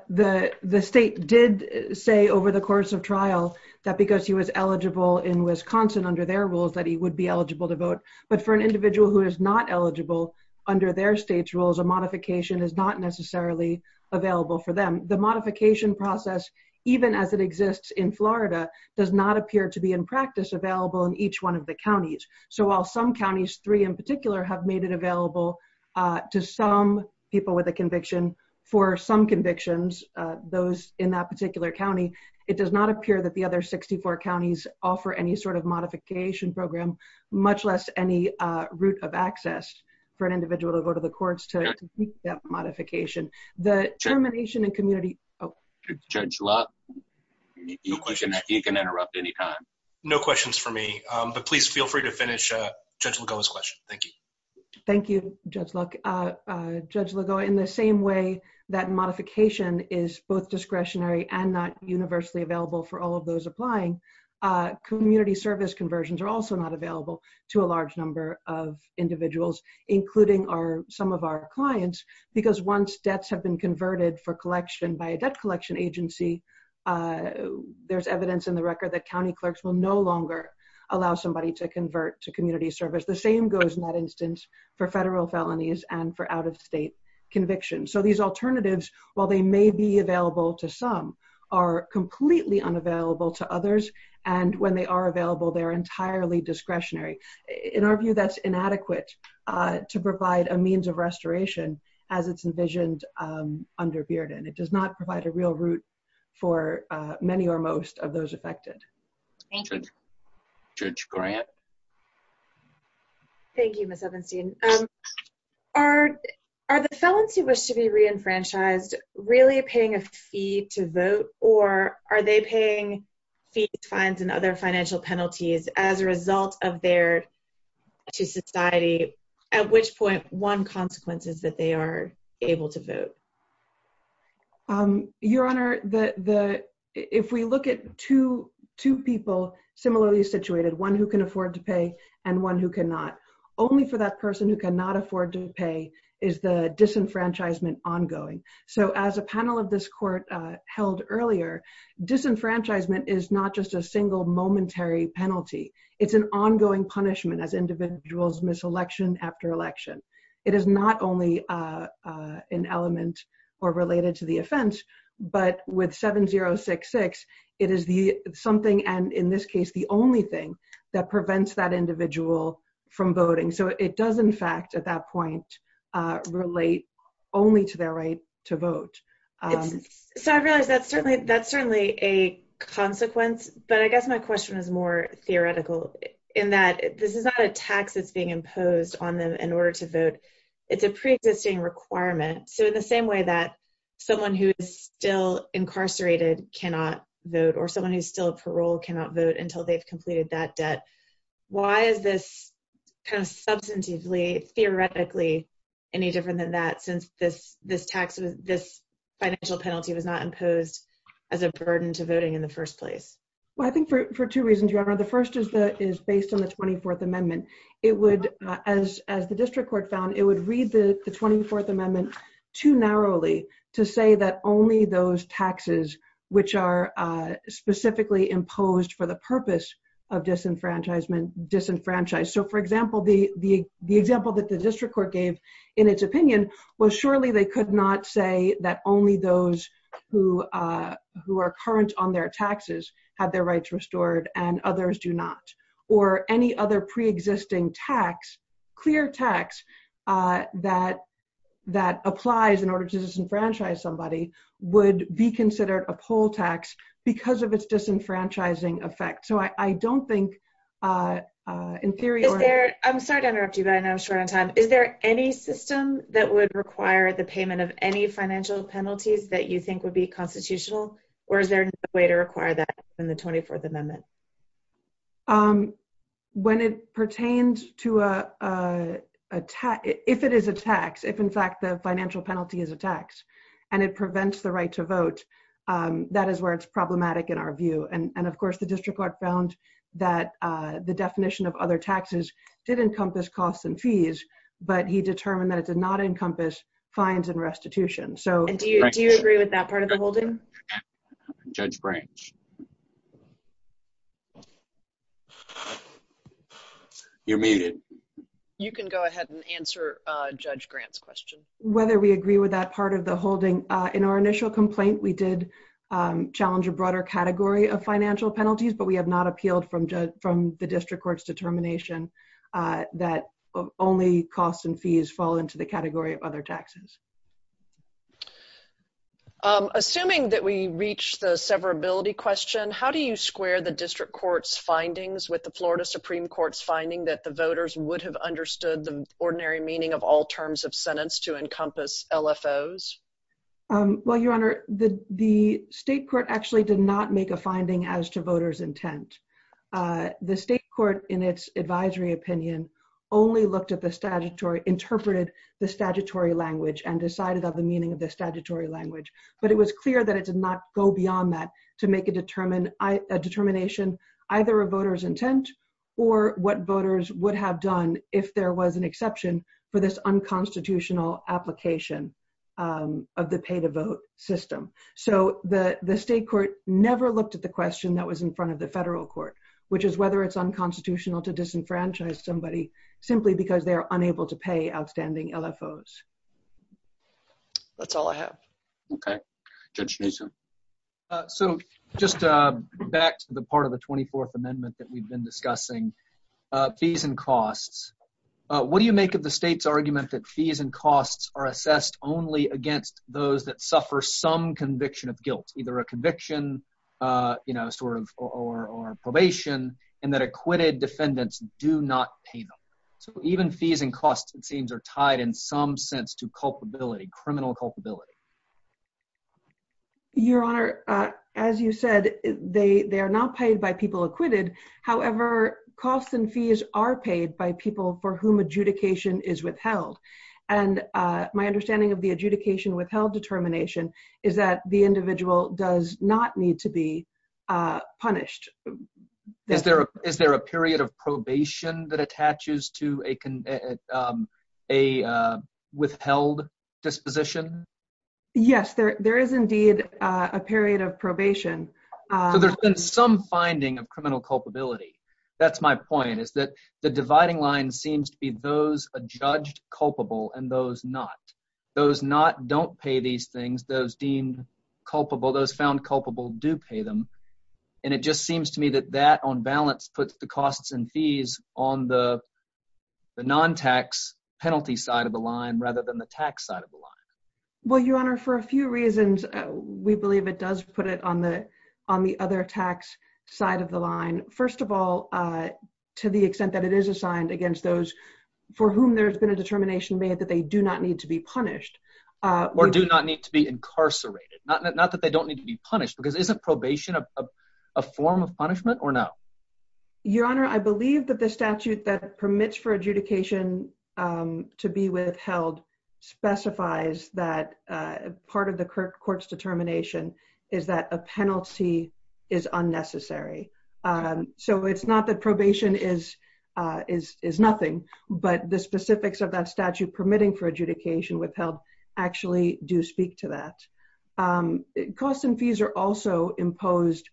The state did say over the course of trial that because he was eligible in Wisconsin under their rules, that he would be eligible to vote. But for an individual who is not eligible under their state's rules, a modification is not necessarily available for them. The modification process, even as it exists in Florida, does not appear to be in practice available in each one of the counties. So, while some counties, three in particular, have made it available to some people with a conviction for some convictions, those in that particular county, it does not appear that the other 64 counties offer any sort of modification program, much less any route of access for an individual to go to the courts to complete that modification. The termination and community... Judge Love, you can interrupt any time. No questions for me, but please feel free to finish Judge Lagoa's question. Thank you. Thank you, Judge Love. Judge Lagoa, in the same way that modification is both discretionary and not universally available for all of those applying, community service conversions are also not available to a large number of individuals, including some of our clients, because once debts have been converted for collection by a debt collection agency, there's evidence in the record that county clerks will no longer allow somebody to convert to community service. The same goes, in that instance, for federal felonies and for out-of-state convictions. So, these alternatives, while they may be available to some, are completely unavailable to others, and when they are available, they are entirely discretionary. In our view, that's inadequate to provide a means of restoration as it's envisioned under Bearden. It does not provide a real route for many or most of those affected. Thank you. Judge Grant? Thank you, Ms. Ovenstein. Are the felonies that wish to be reenfranchised really paying a fee to vote, or are they paying fees, fines, and other financial penalties as a result of their connection to society, at which point, one consequence is that they are able to vote? Your Honor, if we look at two people similarly situated, one who can afford to pay and one who cannot, only for that person who cannot afford to pay is the disenfranchisement ongoing. So, as a panel of this court held earlier, disenfranchisement is not just a single momentary penalty. It's an ongoing punishment as individuals miss election after election. It is not only an element or related to the offense, but with 7066, it is something, and in this case, the only thing that prevents that individual from voting. So, it does, in fact, at that point, relate only to their right to vote. So, I realize that's certainly a consequence, but I guess my question is more theoretical in that this is not a tax that's being imposed on them in order to vote. It's a pre-existing requirement. So, in the same way that someone who is still incarcerated cannot vote, or someone who's still in parole cannot vote until they've completed that debt, why is this kind of substantively, theoretically, any different than that since this tax, this financial penalty was not imposed as a burden to voting in the first place? Well, I think for two reasons, Your Honor. The first is based on the 24th Amendment. It would, as the district court found, it would read the 24th Amendment too narrowly to say that only those taxes which are specifically imposed for the purpose of disenfranchisement, disenfranchised. So, for example, the example that the district court gave in its opinion was surely they could not say that only those who are current on their taxes have their rights restored and others do not. Or any other pre-existing tax, clear tax, that applies in order to disenfranchise somebody would be considered a poll tax because of its disenfranchising effect. So, I don't think, in theory— I'm sorry to interrupt you, but I know I'm short on time. Is there any system that would require the payment of any financial penalties that you think would be constitutional? When it pertains to a tax—if it is a tax, if, in fact, the financial penalty is a tax and it prevents the right to vote, that is where it's problematic in our view. And, of course, the district court found that the definition of other taxes did encompass costs and fees, but he determined that it did not encompass fines and restitution. And do you agree with that part of the holding? Judge Grant? You're muted. You can go ahead and answer Judge Grant's question. Whether we agree with that part of the holding. In our initial complaint, we did challenge a broader category of financial penalties, but we have not appealed from the district court's determination that only costs and fees fall into the category of other taxes. Assuming that we reached the severability question, how do you square the district court's findings with the Florida Supreme Court's finding that the voters would have understood the ordinary meaning of all terms of sentence to encompass LFOs? Well, Your Honor, the state court actually did not make a finding as to voters' intent. The state court, in its advisory opinion, only looked at the statutory—interpreted the statutory language and decided on the meaning of the statutory language. But it was clear that it did not go beyond that to make a determination either of voters' intent or what voters would have done if there was an exception for this unconstitutional application of the pay-to-vote system. So the state court never looked at the question that was in front of the federal court, which is whether it's unconstitutional to disenfranchise somebody simply because they are unable to pay outstanding LFOs. That's all I have. Okay. Judge Mason. So just back to the part of the 24th Amendment that we've been discussing, fees and costs. What do you make of the state's argument that fees and costs are assessed only against those that suffer some conviction of guilt, either a conviction, you know, sort of—or probation, and that acquitted defendants do not pay them? So even fees and costs, it seems, are tied in some sense to culpability, criminal culpability. Your Honor, as you said, they are not paid by people acquitted. However, costs and fees are paid by people for whom adjudication is withheld. And my understanding of the adjudication withheld determination is that the individual does not need to be punished. Is there a period of probation that attaches to a withheld disposition? Yes, there is indeed a period of probation. So there's been some finding of criminal culpability. That's my point, is that the dividing line seems to be those adjudged culpable and those not. Those not don't pay these things. Those deemed culpable, those found culpable do pay them. And it just seems to me that that, on balance, puts the costs and fees on the non-tax penalty side of the line rather than the tax side of the line. Well, Your Honor, for a few reasons, we believe it does put it on the other tax side of the line. First of all, to the extent that it is assigned against those for whom there's been a determination made that they do not need to be punished— Or do not need to be incarcerated. Not that they don't need to be punished, because isn't probation a form of punishment or no? Your Honor, I believe that the statute that permits for adjudication to be withheld specifies that part of the court's determination is that a penalty is unnecessary. So it's not that probation is nothing, but the specifics of that statute permitting for adjudication withheld actually do speak to that. Costs and fees are also imposed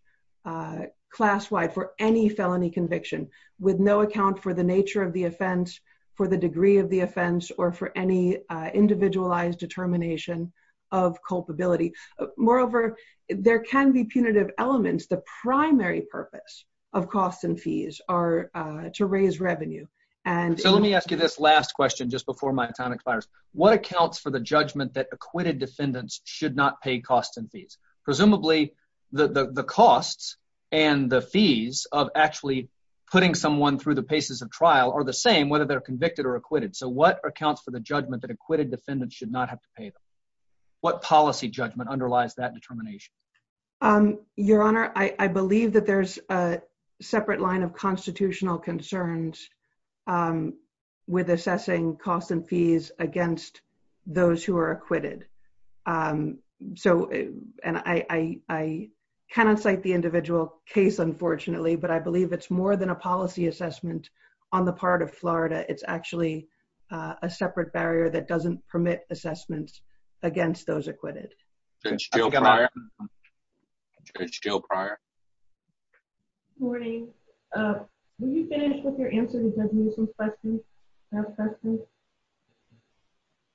class-wide for any felony conviction, with no account for the nature of the offense, for the degree of the offense, or for any individualized determination of culpability. Moreover, there can be punitive elements. The primary purpose of costs and fees are to raise revenue and— So let me ask you this last question just before my time expires. What accounts for the judgment that acquitted defendants should not pay costs and fees? Presumably, the costs and the fees of actually putting someone through the paces of trial are the same whether they're convicted or acquitted. So what accounts for the judgment that acquitted defendants should not have to pay them? What policy judgment underlies that determination? Your Honor, I believe that there's a separate line of constitutional concerns with assessing costs and fees against those who are acquitted. So—and I kind of cite the individual case, unfortunately, but I believe it's more than a policy assessment on the part of Florida. It's actually a separate barrier that doesn't permit assessments against those acquitted. It's still prior. Good morning. Will you finish with your answer to Judge Newsom's question, last question?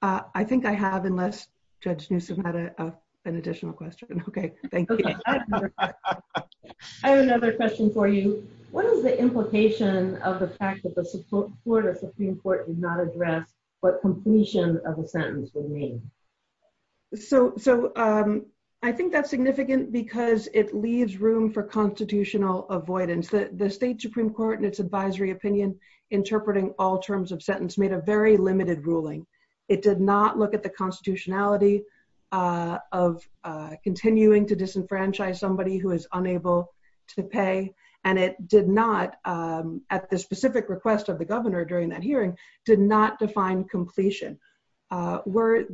I think I have, unless Judge Newsom had an additional question. Okay, thank you. I have another question for you. What is the implication of the fact that the Florida Supreme Court did not address what completion of the sentence would mean? So, I think that's significant because it leaves room for constitutional avoidance. The State Supreme Court, in its advisory opinion, interpreting all terms of sentence made a very limited ruling. It did not look at the constitutionality of continuing to disenfranchise somebody who is unable to pay, and it did not, at the specific request of the governor during that hearing, did not define completion. Were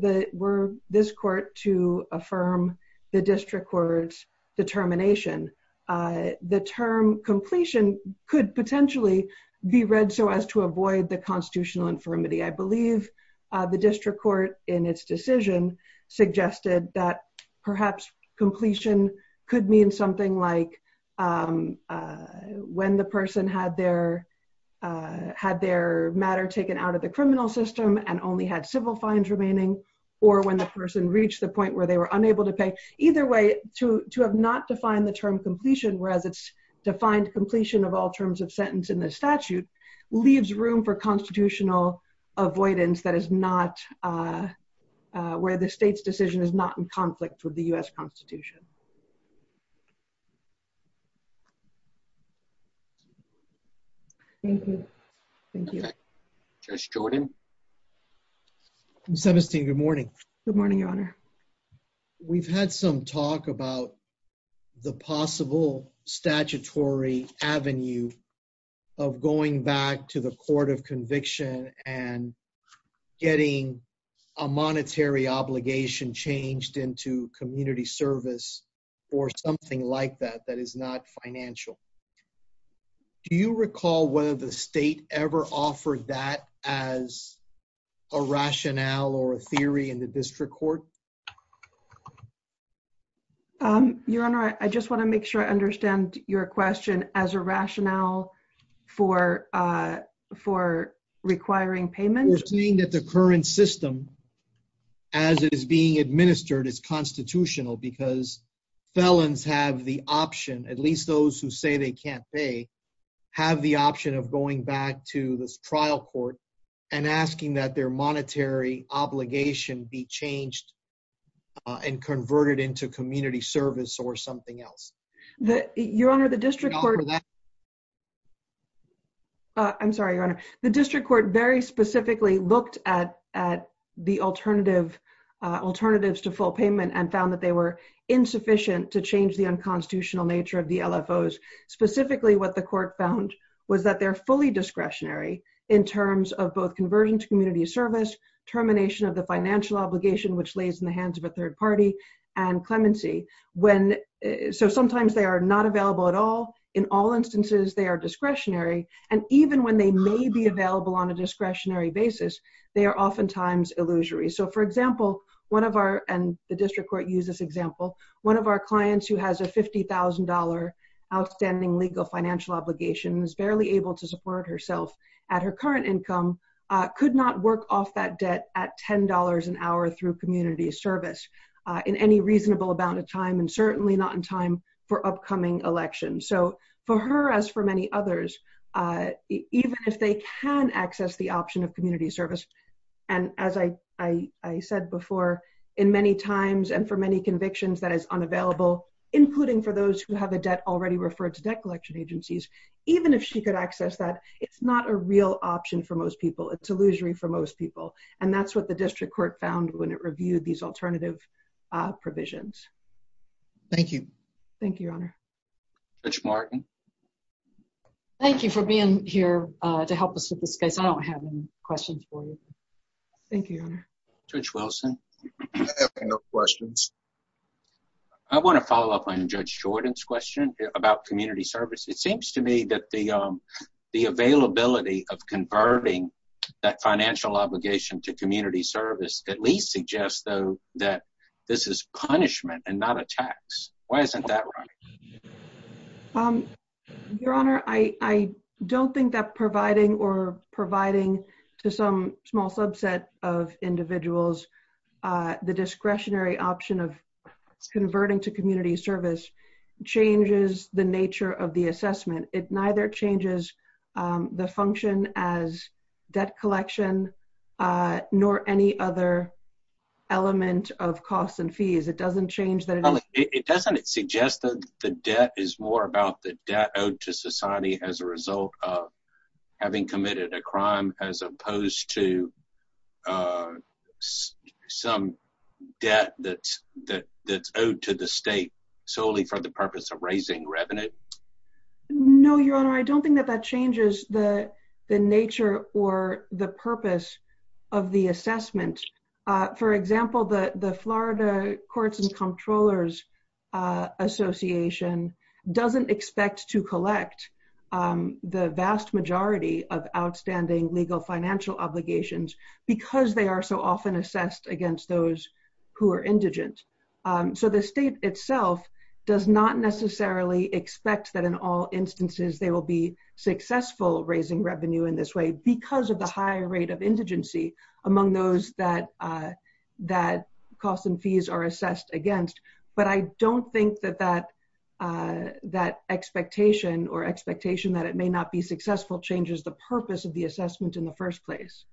this court to affirm the district court's determination, the term completion could potentially be read so as to avoid the constitutional infirmity. I believe the district court, in its decision, suggested that perhaps completion could mean something like when the person had their matter taken out of the criminal system and only had civil fines remaining, or when the person reached the point where they were unable to pay. Either way, to have not defined the term completion, whereas it's defined completion of all terms of sentence in the statute, leaves room for constitutional avoidance that is not, where the state's decision is not in conflict with the U.S. Constitution. Thank you. Thank you. Judge Jordan? Ms. Hevesty, good morning. Good morning, Your Honor. We've had some talk about the possible statutory avenue of going back to the court of conviction and getting a monetary obligation changed into community service or something like that that is not financial. Do you recall whether the state ever offered that as a rationale or a theory in the district court? Your Honor, I just want to make sure I understand your question. As a rationale for requiring payment? We're seeing that the current system, as it is being administered, is constitutional because felons have the option, at least those who say they can't pay, have the option of going back to this trial court and asking that their monetary obligation be changed and converted into community service or something else. Your Honor, the district court... I'm sorry, Your Honor. The district court very specifically looked at the alternatives to full payment and found that they were insufficient to change the unconstitutional nature of the LFOs. Specifically, what the court found was that they're fully discretionary in terms of both conversion to community service, termination of the financial obligation, which lays in the hands of a third party, and clemency. So sometimes they are not available at all. In all instances, they are discretionary. And even when they may be available on a discretionary basis, they are oftentimes illusory. For example, one of our... And the district court used this example. One of our clients who has a $50,000 outstanding legal financial obligation and is barely able to support herself at her current income could not work off that debt at $10 an hour through community service in any reasonable amount of time, and certainly not in time for upcoming elections. So for her, as for many others, even if they can access the option of community service, and as I said before, in many times and for many convictions, that is unavailable, including for those who have a debt already referred to debt collection agencies, even if she could access that, it's not a real option for most people. It's illusory for most people. And that's what the district court found when it reviewed these alternative provisions. Thank you. Thank you, Your Honor. Judge Martin. Thank you for being here to help us with this case. I don't have any questions for you. Thank you, Your Honor. Judge Wilson. I have no questions. I want to follow up on Judge Shorten's question about community service. It seems to me that the availability of converting that financial obligation to community service at least suggests, though, that this is punishment and not a tax. Why isn't that right? Your Honor, I don't think that providing or providing to some small subset of individuals the discretionary option of converting to community service changes the nature of the assessment. It neither changes the function as debt collection nor any other element of costs and fees. It doesn't change that. It doesn't suggest that the debt is more about the debt owed to society as a result of having committed a crime as opposed to some debt that's owed to the state solely for the purpose of raising revenue? No, Your Honor. I don't think that that changes the nature or the purpose of the assessment. For example, the Florida Courts and Comptrollers Association doesn't expect to collect the vast majority of outstanding legal financial obligations because they are so often assessed against those who are indigent. So the state itself does not necessarily expect that in all instances they will be successful raising revenue in this way because of the high rate of indigency among those that costs and fees are assessed against. But I don't think that that expectation or expectation that it may not be successful changes the purpose of the assessment in the first place.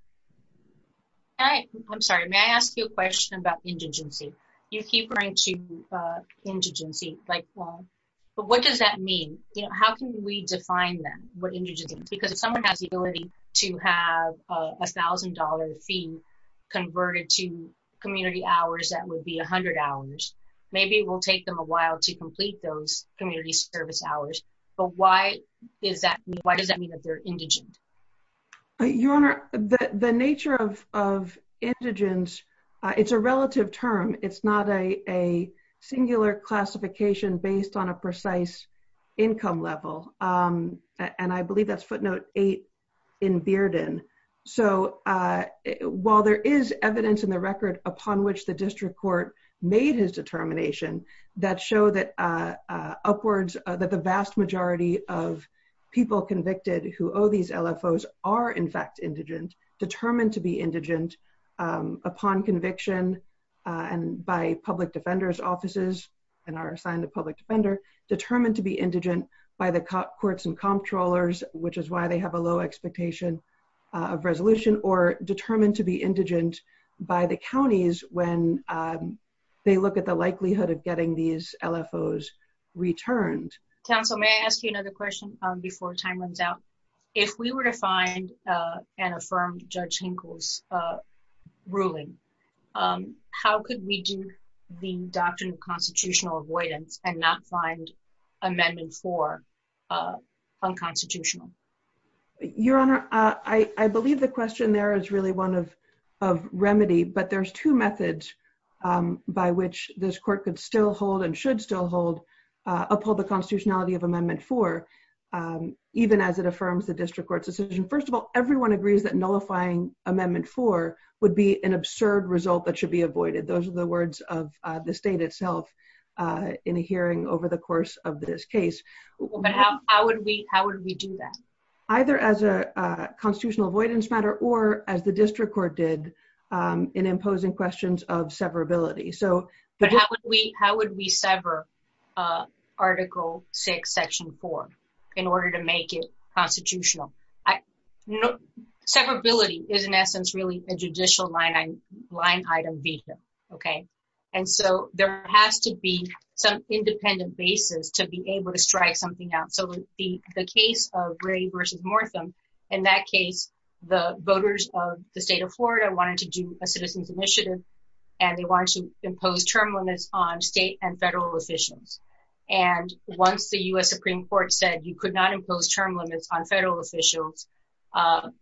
I'm sorry. May I ask you a question about indigency? You keep going to indigency. But what does that mean? How can we define then what indigency is? Because if someone has the ability to have $1,000 being converted to community hours, that would be 100 hours. Maybe it will take them a while to complete those community service hours. But why does that mean that they're indigent? Your Honor, the nature of indigent, it's a relative term. It's not a singular classification based on a precise income level. And I believe that's footnote eight in Bearden. So while there is evidence in the record upon which the district court made his determination, that showed upwards that the vast majority of people convicted who owe these LFOs are in fact indigent, determined to be indigent upon conviction and by public defender's offices and are assigned a public defender, determined to be indigent by the courts and comptrollers, which is why they have a low expectation of resolution, or determined to be indigent by the counties when they look at the likelihood of getting these LFOs returned. Counsel, may I ask you another question before time runs out? If we were to find and affirm Judge Hinkle's ruling, how could we do the doctrine of constitutional avoidance and not find Amendment 4 unconstitutional? Your Honor, I believe the question there is really one of remedy, but there's two methods by which this court could still hold and should still hold, uphold the constitutionality of Amendment 4, even as it affirms the district court's decision. First of all, everyone agrees that nullifying Amendment 4 would be an absurd result that should be avoided. Those are the words of the state itself in a hearing over the course of this case. How would we do that? Either as a constitutional avoidance matter or as the district court did in imposing questions of severability. How would we sever Article 6, Section 4 in order to make it constitutional? No. Severability is, in essence, really a judicial line-item visa. There has to be some independent basis to be able to strike something out. The case of Gray v. Mortham, in that case, the voters of the state of Florida wanted to do a citizen's initiative, and they wanted to impose term limits on state and federal officials. And once the U.S. Supreme Court said you could not impose term limits on federal officials,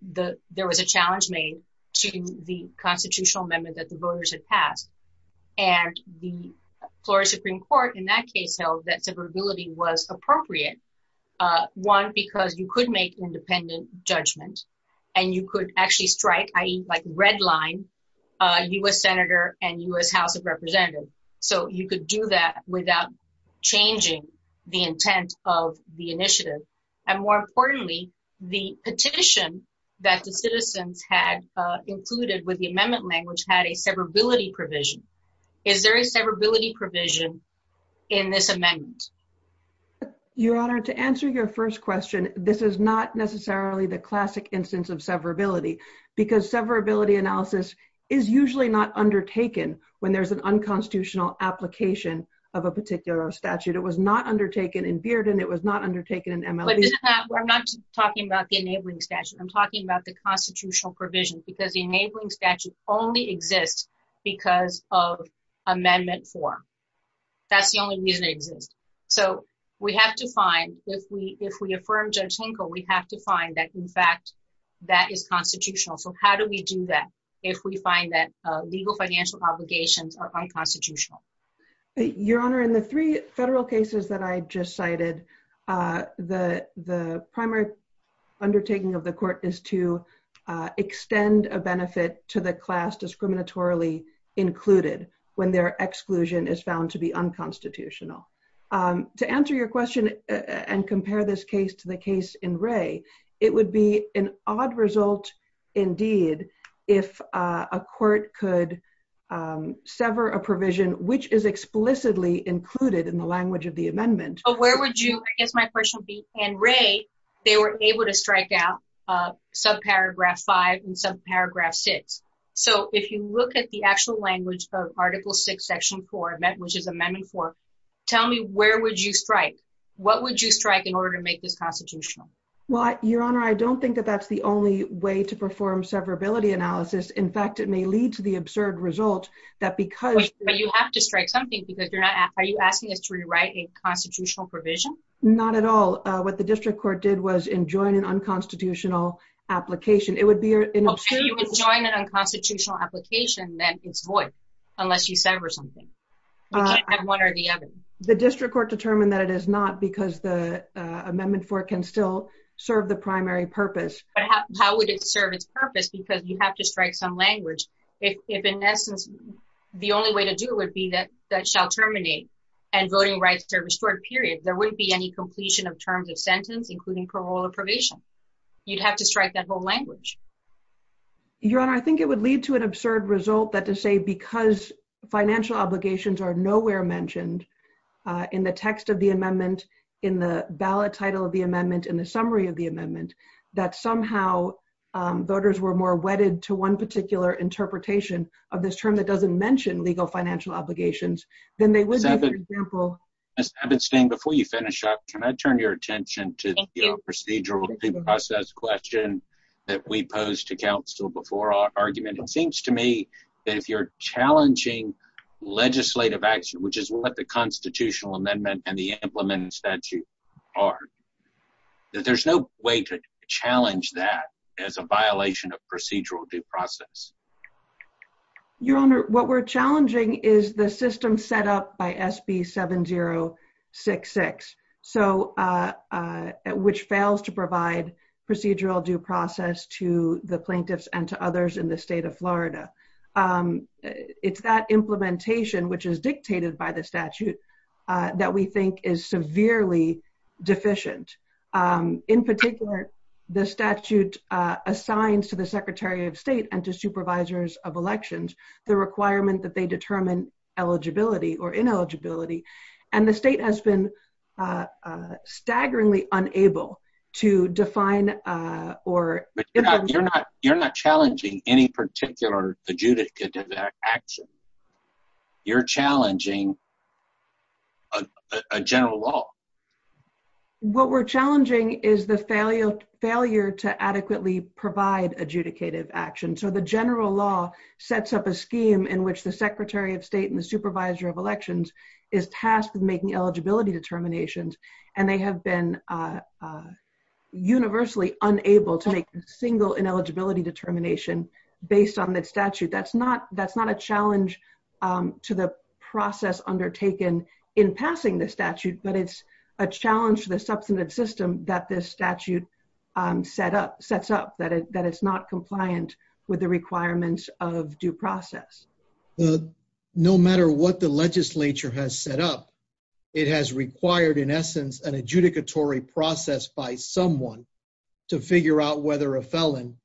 there was a challenge made to the constitutional amendment that the voters had passed. And the Florida Supreme Court, in that case, held that severability was appropriate. One, because you could make independent judgments, and you could actually strike, i.e., like redline a U.S. senator and U.S. House of Representatives. So you could do that without changing the intent of the initiative. And more importantly, the petition that the citizens had included with the amendment language had a severability provision. Is there a severability provision in this amendment? Your Honor, to answer your first question, this is not necessarily the classic instance of severability, because severability analysis is usually not undertaken when there's an unconstitutional application of a particular statute. It was not undertaken in Bearden. It was not undertaken in MLB. I'm not just talking about the enabling statute. I'm talking about the constitutional provision, because the enabling statute only exists because of Amendment 4. That's the only reason it exists. So we have to find, if we affirm Judge Hinkle, we have to find that, in fact, that is constitutional. So how do we do that if we find that legal financial obligations are unconstitutional? Your Honor, in the three federal cases that I just cited, the primary undertaking of the court is to extend a benefit to the class discriminatorily included when their exclusion is found to be unconstitutional. To answer your question and compare this case to the case in Wray, it would be an odd result, indeed, if a court could sever a provision which is explicitly included in the language of the amendment. Where would you, I guess my question would be, in Wray, they were able to strike out subparagraph 5 and subparagraph 6. So if you look at the actual language of Article 6, Section 4, which is Amendment 4, tell me where would you strike? What would you strike in order to make this constitutional? Well, Your Honor, I don't think that that's the only way to perform severability analysis. In fact, it may lead to the absurd result that because... But you have to strike something because you're not, are you asking us to rewrite a constitutional provision? Not at all. What the district court did was enjoin an unconstitutional application. It would be... Okay, you would join an unconstitutional application that is void unless you sever something. You can't have one or the other. The district court determined that it is not because the Amendment 4 can still serve the primary purpose. But how would it serve its purpose? Because you have to strike some language. If in essence, the only way to do it would be that that shall terminate and voting rights are restored, period. There wouldn't be any completion of terms of sentence, including parole or probation. You'd have to strike that whole language. Your Honor, I think it would lead to an absurd result that to say because financial obligations are nowhere mentioned in the text of the amendment, in the ballot title of the amendment, in the summary of the amendment, that somehow voters were more wedded to one particular interpretation of this term that doesn't mention legal financial obligations than they would... Ms. Epstein, before you finish up, can I turn your attention to the procedural due process question that we posed to counsel before our argument? It seems to me that if you're challenging legislative action, which is what the constitutional amendment and the implementing statute are, that there's no way to challenge that as a violation of procedural due process. Your Honor, what we're challenging is the system set up by SB 7066, which fails to provide procedural due process to the plaintiffs and to others in the state of Florida. It's that implementation, which is dictated by the statute, that we think is severely deficient. In particular, the statute assigns to the Secretary of State and to supervisors of elections the requirement that they determine eligibility or ineligibility, and the state has been adjudicative in their action. You're challenging a general law. What we're challenging is the failure to adequately provide adjudicative action. So the general law sets up a scheme in which the Secretary of State and the supervisor of elections is tasked with making eligibility determinations, and they have been universally unable to make a single ineligibility determination based on the statute. That's not a challenge to the process undertaken in passing the statute, but it's a challenge to the substantive system that this statute sets up, that it's not compliant with the requirements of due process. No matter what the legislature has set up, it has required, in essence, an adjudicatory process by someone to figure out whether a felon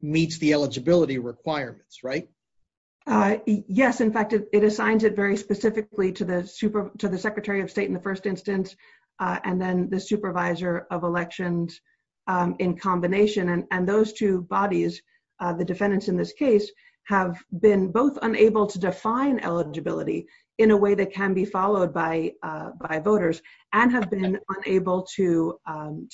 meets the eligibility requirements, right? Yes. In fact, it assigns it very specifically to the Secretary of State in the first instance, and then the supervisor of elections in combination, and those two bodies, the defendants in this case, have been both unable to define eligibility in a way that can be unable to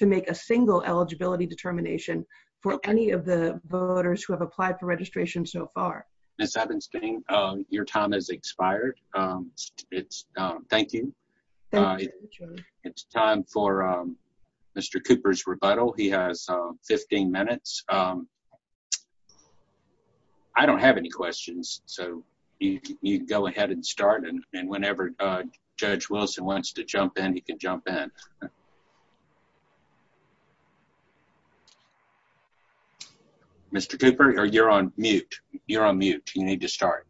make a single eligibility determination for any of the voters who have applied for registration so far. Ms. Evanstein, your time has expired. Thank you. It's time for Mr. Cooper's rebuttal. He has 15 minutes. I don't have any questions, so you go ahead and start, and whenever Judge Wilson wants to jump in, he can jump in. Mr. Cooper, you're on mute. You're on mute. You need to start.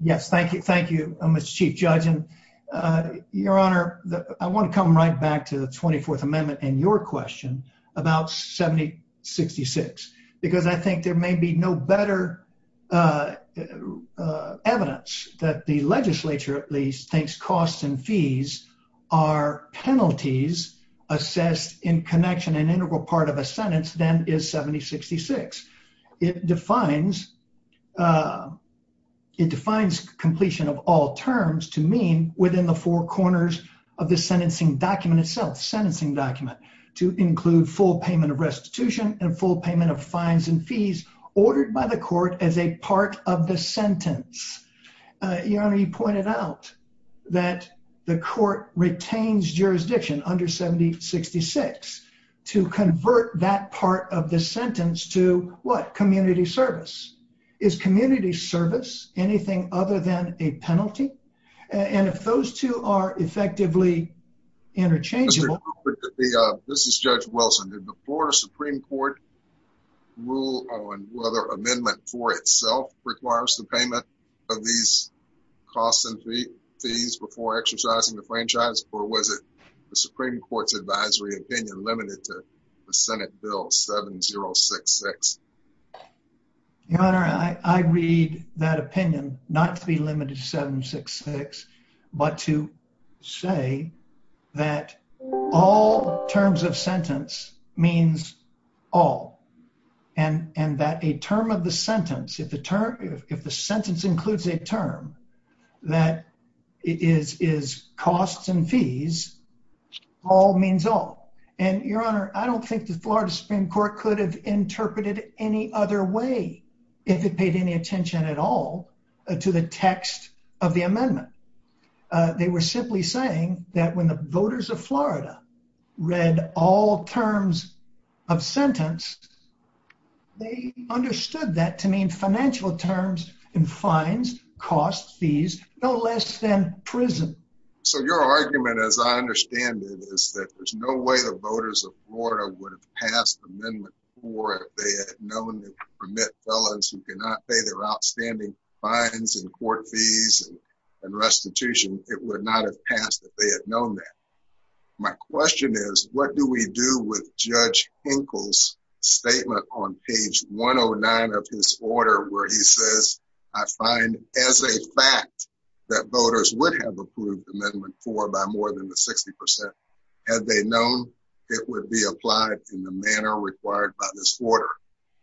Yes, thank you, Mr. Chief Judge. Your Honor, I want to come right back to the 24th Amendment and your question about 7066, because I think there may be no better evidence that the legislature, at least, thinks costs and fees are penalties assessed in connection and integral part of a sentence than is 7066. It defines completion of all terms to mean within the four corners of the sentencing document itself, sentencing document, to include full payment of restitution and full payment of fines and fees ordered by the court as a part of the sentence. Your Honor, you pointed out that the court retains jurisdiction under 7066 to convert that part of the sentence to, what, community service. Is community service anything other than a penalty? And if those two are effectively interchangeable... This is Judge Wilson. Did the Florida Supreme Court rule on whether amendment for itself requires the payment of these costs and fees before exercising the franchise, or was it the Supreme Court's advisory opinion limited to the Senate Bill 7066? Your Honor, I read that opinion not to be limited to 7066, but to say that all terms of sentence means all, and that a term of the sentence, if the sentence includes a term that is costs and fees, all means all. And, Your Honor, I don't think the Florida Supreme Court could have interpreted any other way if it paid any attention at all to the text of the amendment. They were simply saying that when the voters of Florida read all terms of sentence, they understood that to mean financial terms and fines, costs, fees, no less than prison. So your argument, as I understand it, is that there's no way the voters of Florida would have passed Amendment 4 if they had known that permit fellows who cannot pay their outstanding fines and court fees and restitution, it would not have passed if they had known that. My question is, what do we do with Judge Hinkle's statement on page 109 of his order where he says, I find as a fact that voters would have approved Amendment 4 by more than 60% had they known it would be applied in the manner required by this order.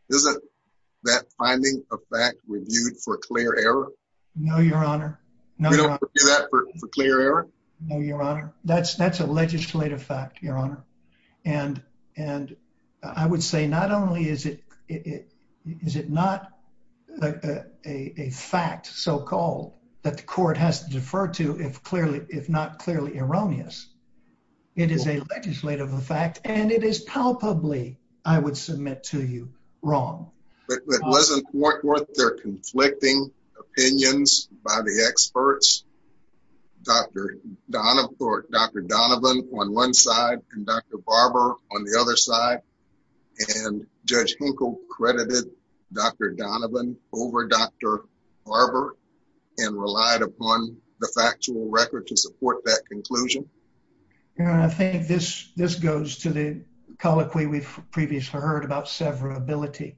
Isn't that finding a fact reviewed for clear error? No, Your Honor. No, Your Honor. That's a legislative fact, Your Honor. And I would say not only is it not a fact so-called that the court has to defer to if not clearly erroneous, it is a legislative fact and it is palpably, I would submit to you, wrong. But wasn't their conflicting opinions by the experts, Dr. Donovan on one side and Dr. Barber on the other side, and Judge Hinkle credited Dr. Donovan over Dr. Barber and relied upon the factual record to support that conclusion? Your Honor, I think this goes to the colloquy we've previously heard about severability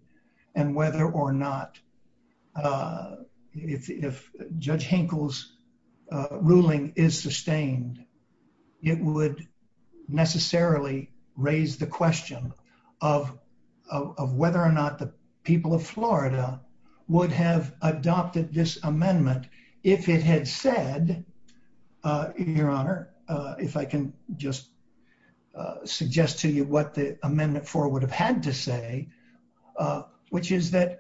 and whether or not if Judge Hinkle's ruling is sustained, it would necessarily raise the people of Florida would have adopted this amendment if it had said, Your Honor, if I can just suggest to you what the Amendment 4 would have had to say, which is that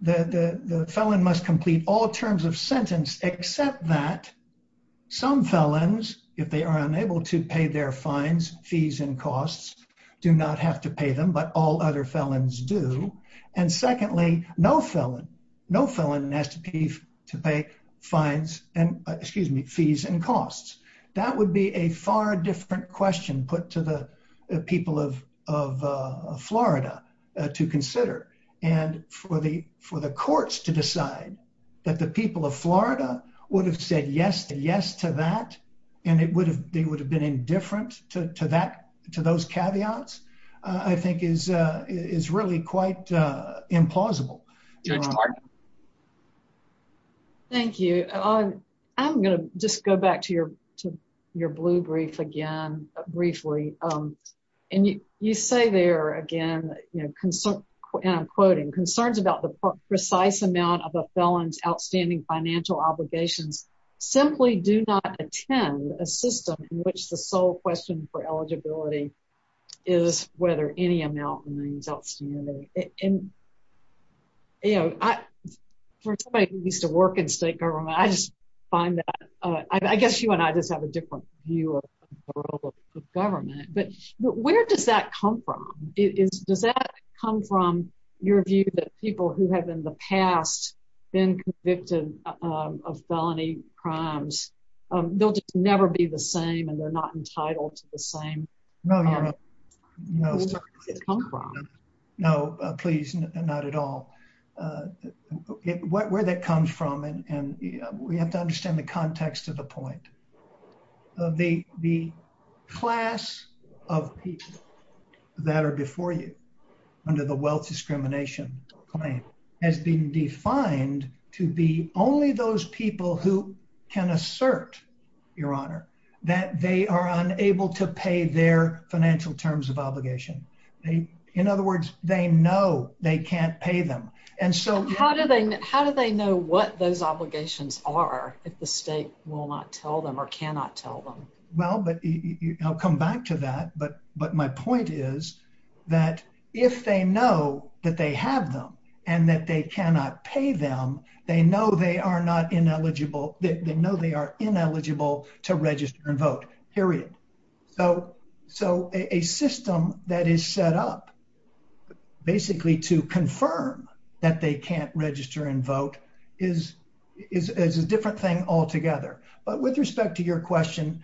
the felon must complete all terms of sentence except that some felons, if they are unable to pay their fines, fees, and costs, do not have to pay them, but all other felons do. And secondly, no felon has to pay fees and costs. That would be a far different question put to the people of Florida to consider. And for the courts to decide that the people of Florida would have said yes to that, and they would have been indifferent to those caveats, I think is really quite implausible. Thank you. I'm going to just go back to your blue brief again briefly. And you say there again, and I'm quoting, concerns about the precise amount of a felon's outstanding financial obligations simply do not attend a system in which the sole question for eligibility is whether any amount remains outstanding. And, you know, for somebody who used to work in state government, I just find that, I guess you and I just have a different view of the role of government. But where does that come from? Does that come from your view that people who have in the past been convicted of felony crimes, they'll just never be the same and they're not entitled to the same? No, no, no. No, please, not at all. Where that comes from, and we have to understand the context of the point. The class of people that are before you under the wealth discrimination claim has been defined to be only those people who can assert, Your Honor, that they are unable to pay their financial terms of obligation. In other words, they know they can't pay them. And so how do they know what those obligations are if the state will not tell them or cannot tell them? Well, but I'll come back to that. But my point is that if they know that they have them and that they cannot pay them, they know they are not ineligible. They know they are ineligible to register and vote, period. So a system that is set up basically to confirm that they can't register and vote is a different thing altogether. But with respect to your question,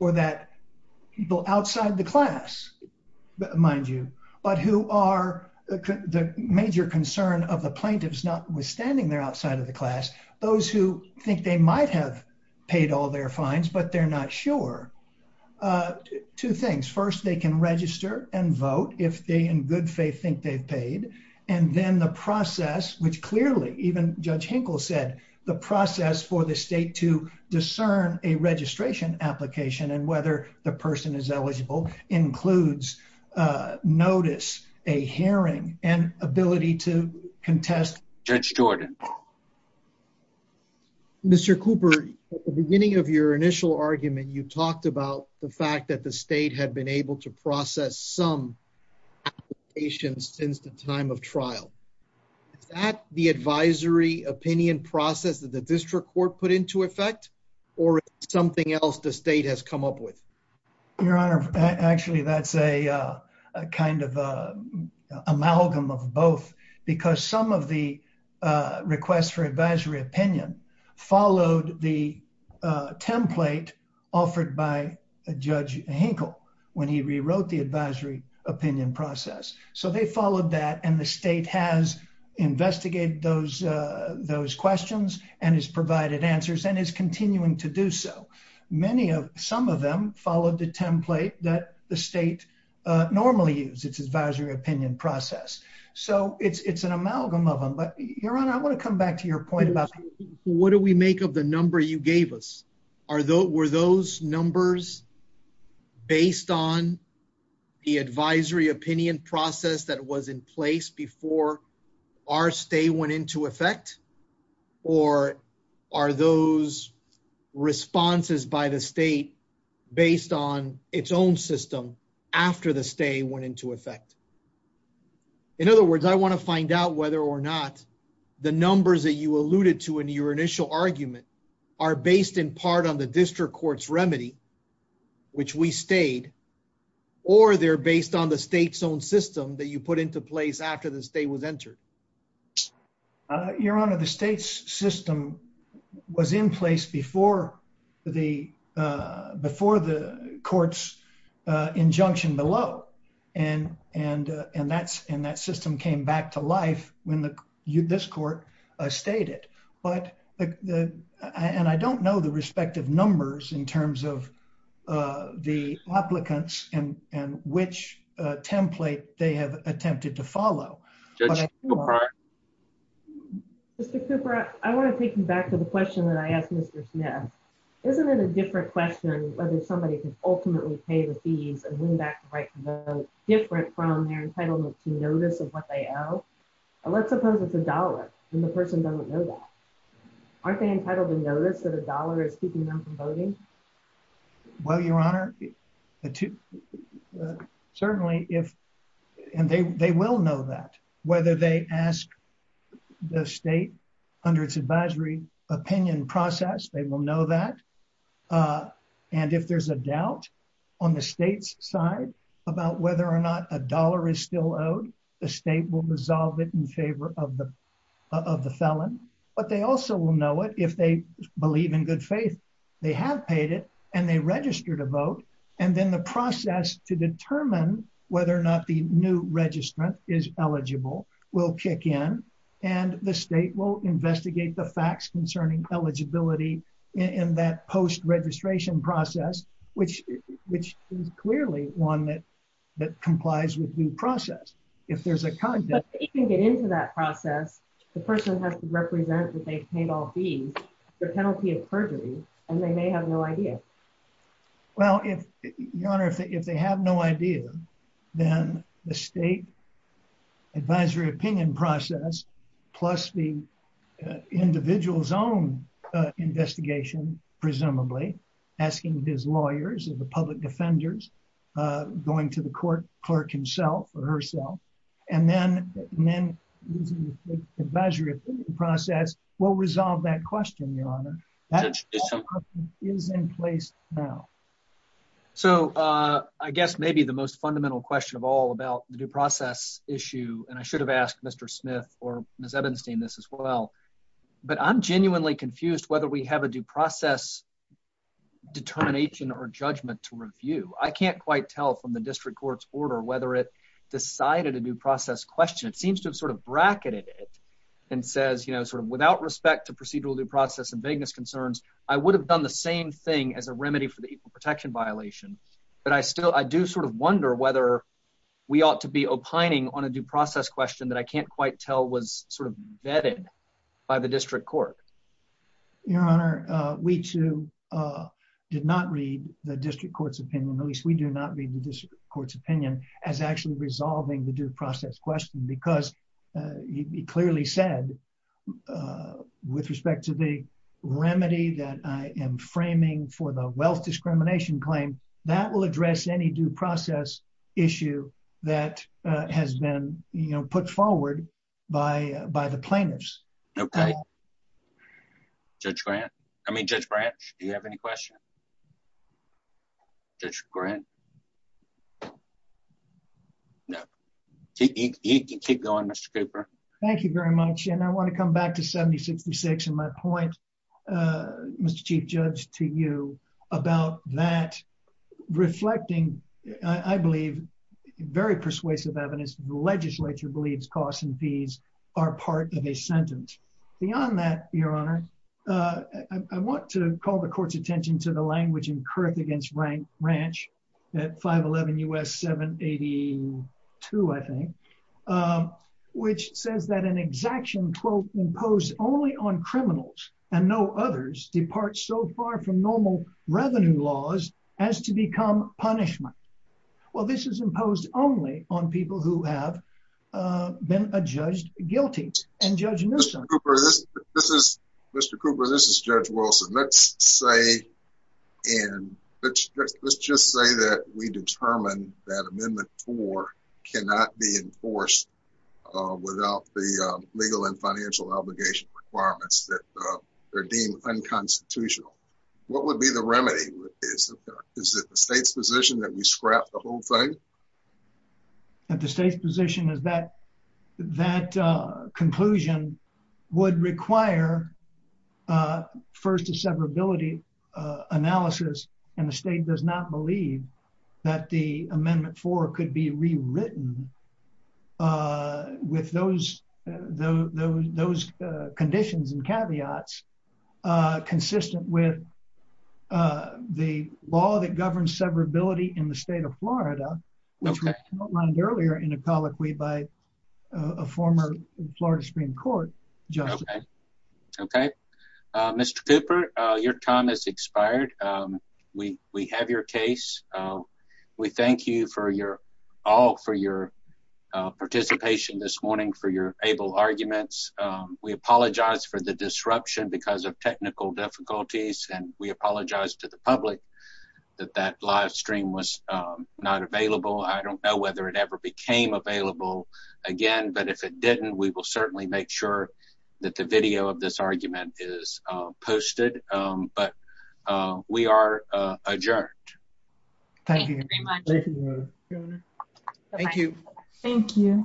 or that people outside the class, mind you, but who are the major concern of the plaintiffs, notwithstanding they're outside of the class, those who think they might have paid all their fines, but they're not sure. Two things. First, they can register and vote if they in good faith think they've paid. And then the process, which clearly even Judge Hinkle said, the process for the state to discern a registration application and whether the person is eligible includes notice, a hearing, and ability to contest. Judge Stewart. Mr. Cooper, at the beginning of your initial argument, you talked about the fact that the time of trial, is that the advisory opinion process that the district court put into effect or something else the state has come up with? Your Honor, actually, that's a kind of amalgam of both because some of the requests for advisory opinion followed the template offered by Judge Hinkle when he rewrote the advisory opinion process. So they followed that and the state has investigated those questions and has provided answers and is continuing to do so. Some of them followed the template that the state normally uses, its advisory opinion process. So it's an amalgam of them. But Your Honor, I want to come back to your point about what do we make of the number you gave us? Were those numbers based on the advisory opinion process that was in place before our stay went into effect? Or are those responses by the state based on its own system after the stay went into effect? In other words, I want to find out whether or not the numbers that you alluded to in your initial argument are based in part on the district court's remedy, which we stayed, or they're based on the state's own system that you put into place after the stay was entered. Your Honor, the state's in place before the court's injunction below. And that system came back to life when this court stayed it. And I don't know the respective numbers in terms of the applicants and which template they have attempted to follow. Mr. Cooper, I want to take you back to the question that I asked Mr. Smith. Isn't it a different question whether somebody can ultimately pay the fees and win back the right to vote different from their entitlement to notice of what they owe? Let's suppose it's a dollar, and the person doesn't know that. Aren't they entitled to notice that a dollar is keeping them voting? Well, Your Honor, certainly if, and they will know that whether they ask the state under its advisory opinion process, they will know that. And if there's a doubt on the state's side about whether or not a dollar is still owed, the state will resolve it in favor of the felon. But they also will know it if they believe in good faith. They have paid it, and they registered a vote. And then the process to determine whether or not the new registrant is eligible will kick in, and the state will investigate the facts concerning eligibility in that post-registration process, which is clearly one that complies with due process. If there's a... But if they can get into that process, the person has to represent that they've paid all fees, the penalty is perjury, and they may have no idea. Well, if, Your Honor, if they have no idea, then the state advisory opinion process plus the individual's own investigation, presumably, asking his lawyers and the public defenders, going to the court, clerk himself or herself, and then using the state's advisory opinion process will resolve that question, Your Honor. That question is in place now. So I guess maybe the most fundamental question of all about the due process issue, and I should have asked Mr. Smith or Ms. Edenstein this as well, but I'm genuinely confused whether we have a due process determination or judgment to review. I can't quite tell from the district court's order whether it decided a due process question. It seems to have sort of bracketed it and says, sort of, without respect to procedural due process and vagueness concerns, I would have done the same thing as a remedy for the equal protection violation, but I still... I do sort of wonder whether we ought to be opining on a due process question that I can't quite tell was sort of vetted by the district court. Your Honor, we too did not read the district court's opinion, at least we do not read the district court's opinion, as actually resolving the due process question because he clearly said, with respect to the remedy that I am framing for the wealth discrimination claim, that will address any due process issue that has been, you know, put forward by the plaintiffs. Judge Grant? I mean, Judge Branch, do you have any questions? Judge Grant? No. You can keep going, Mr. Cooper. Thank you very much, and I want to come back to 7066 and my point, Mr. Chief Judge, to you about that reflecting, I believe, very persuasive evidence the legislature believes costs and fees are part of a sentence. Beyond that, Your Honor, I want to call the court's attention to the language incurred against Branch at 511 U.S. 782, I think, which says that an exaction quote imposed only on criminals and no others departs so far from normal revenue laws as to become punishment. Well, this is imposed only on people who have been judged guilty, and Judge Newsom. Mr. Cooper, this is Judge Wilson. Let's just say that we determine that Amendment 4 cannot be enforced without the legal and financial obligation requirements that are deemed unconstitutional. What would be the remedy? Is it the state's position that we scrap the whole thing? The state's position is that that conclusion would require, first, a severability analysis, and the state does not believe that the Amendment 4 could be rewritten with those conditions and caveats consistent with the law that governs severability in the state of Florida, which was outlined earlier in a colloquy by a former Florida Supreme Court judge. Okay. Mr. Cooper, your time has expired. We have your case. We thank you all for your participation this morning, for your able arguments. We apologize for the disruption because of technical difficulties, and we apologize to the public that that live stream was not available. I don't know whether it ever became available again, but if it didn't, we will certainly make sure that the video of this but we are adjourned. Thank you. Thank you.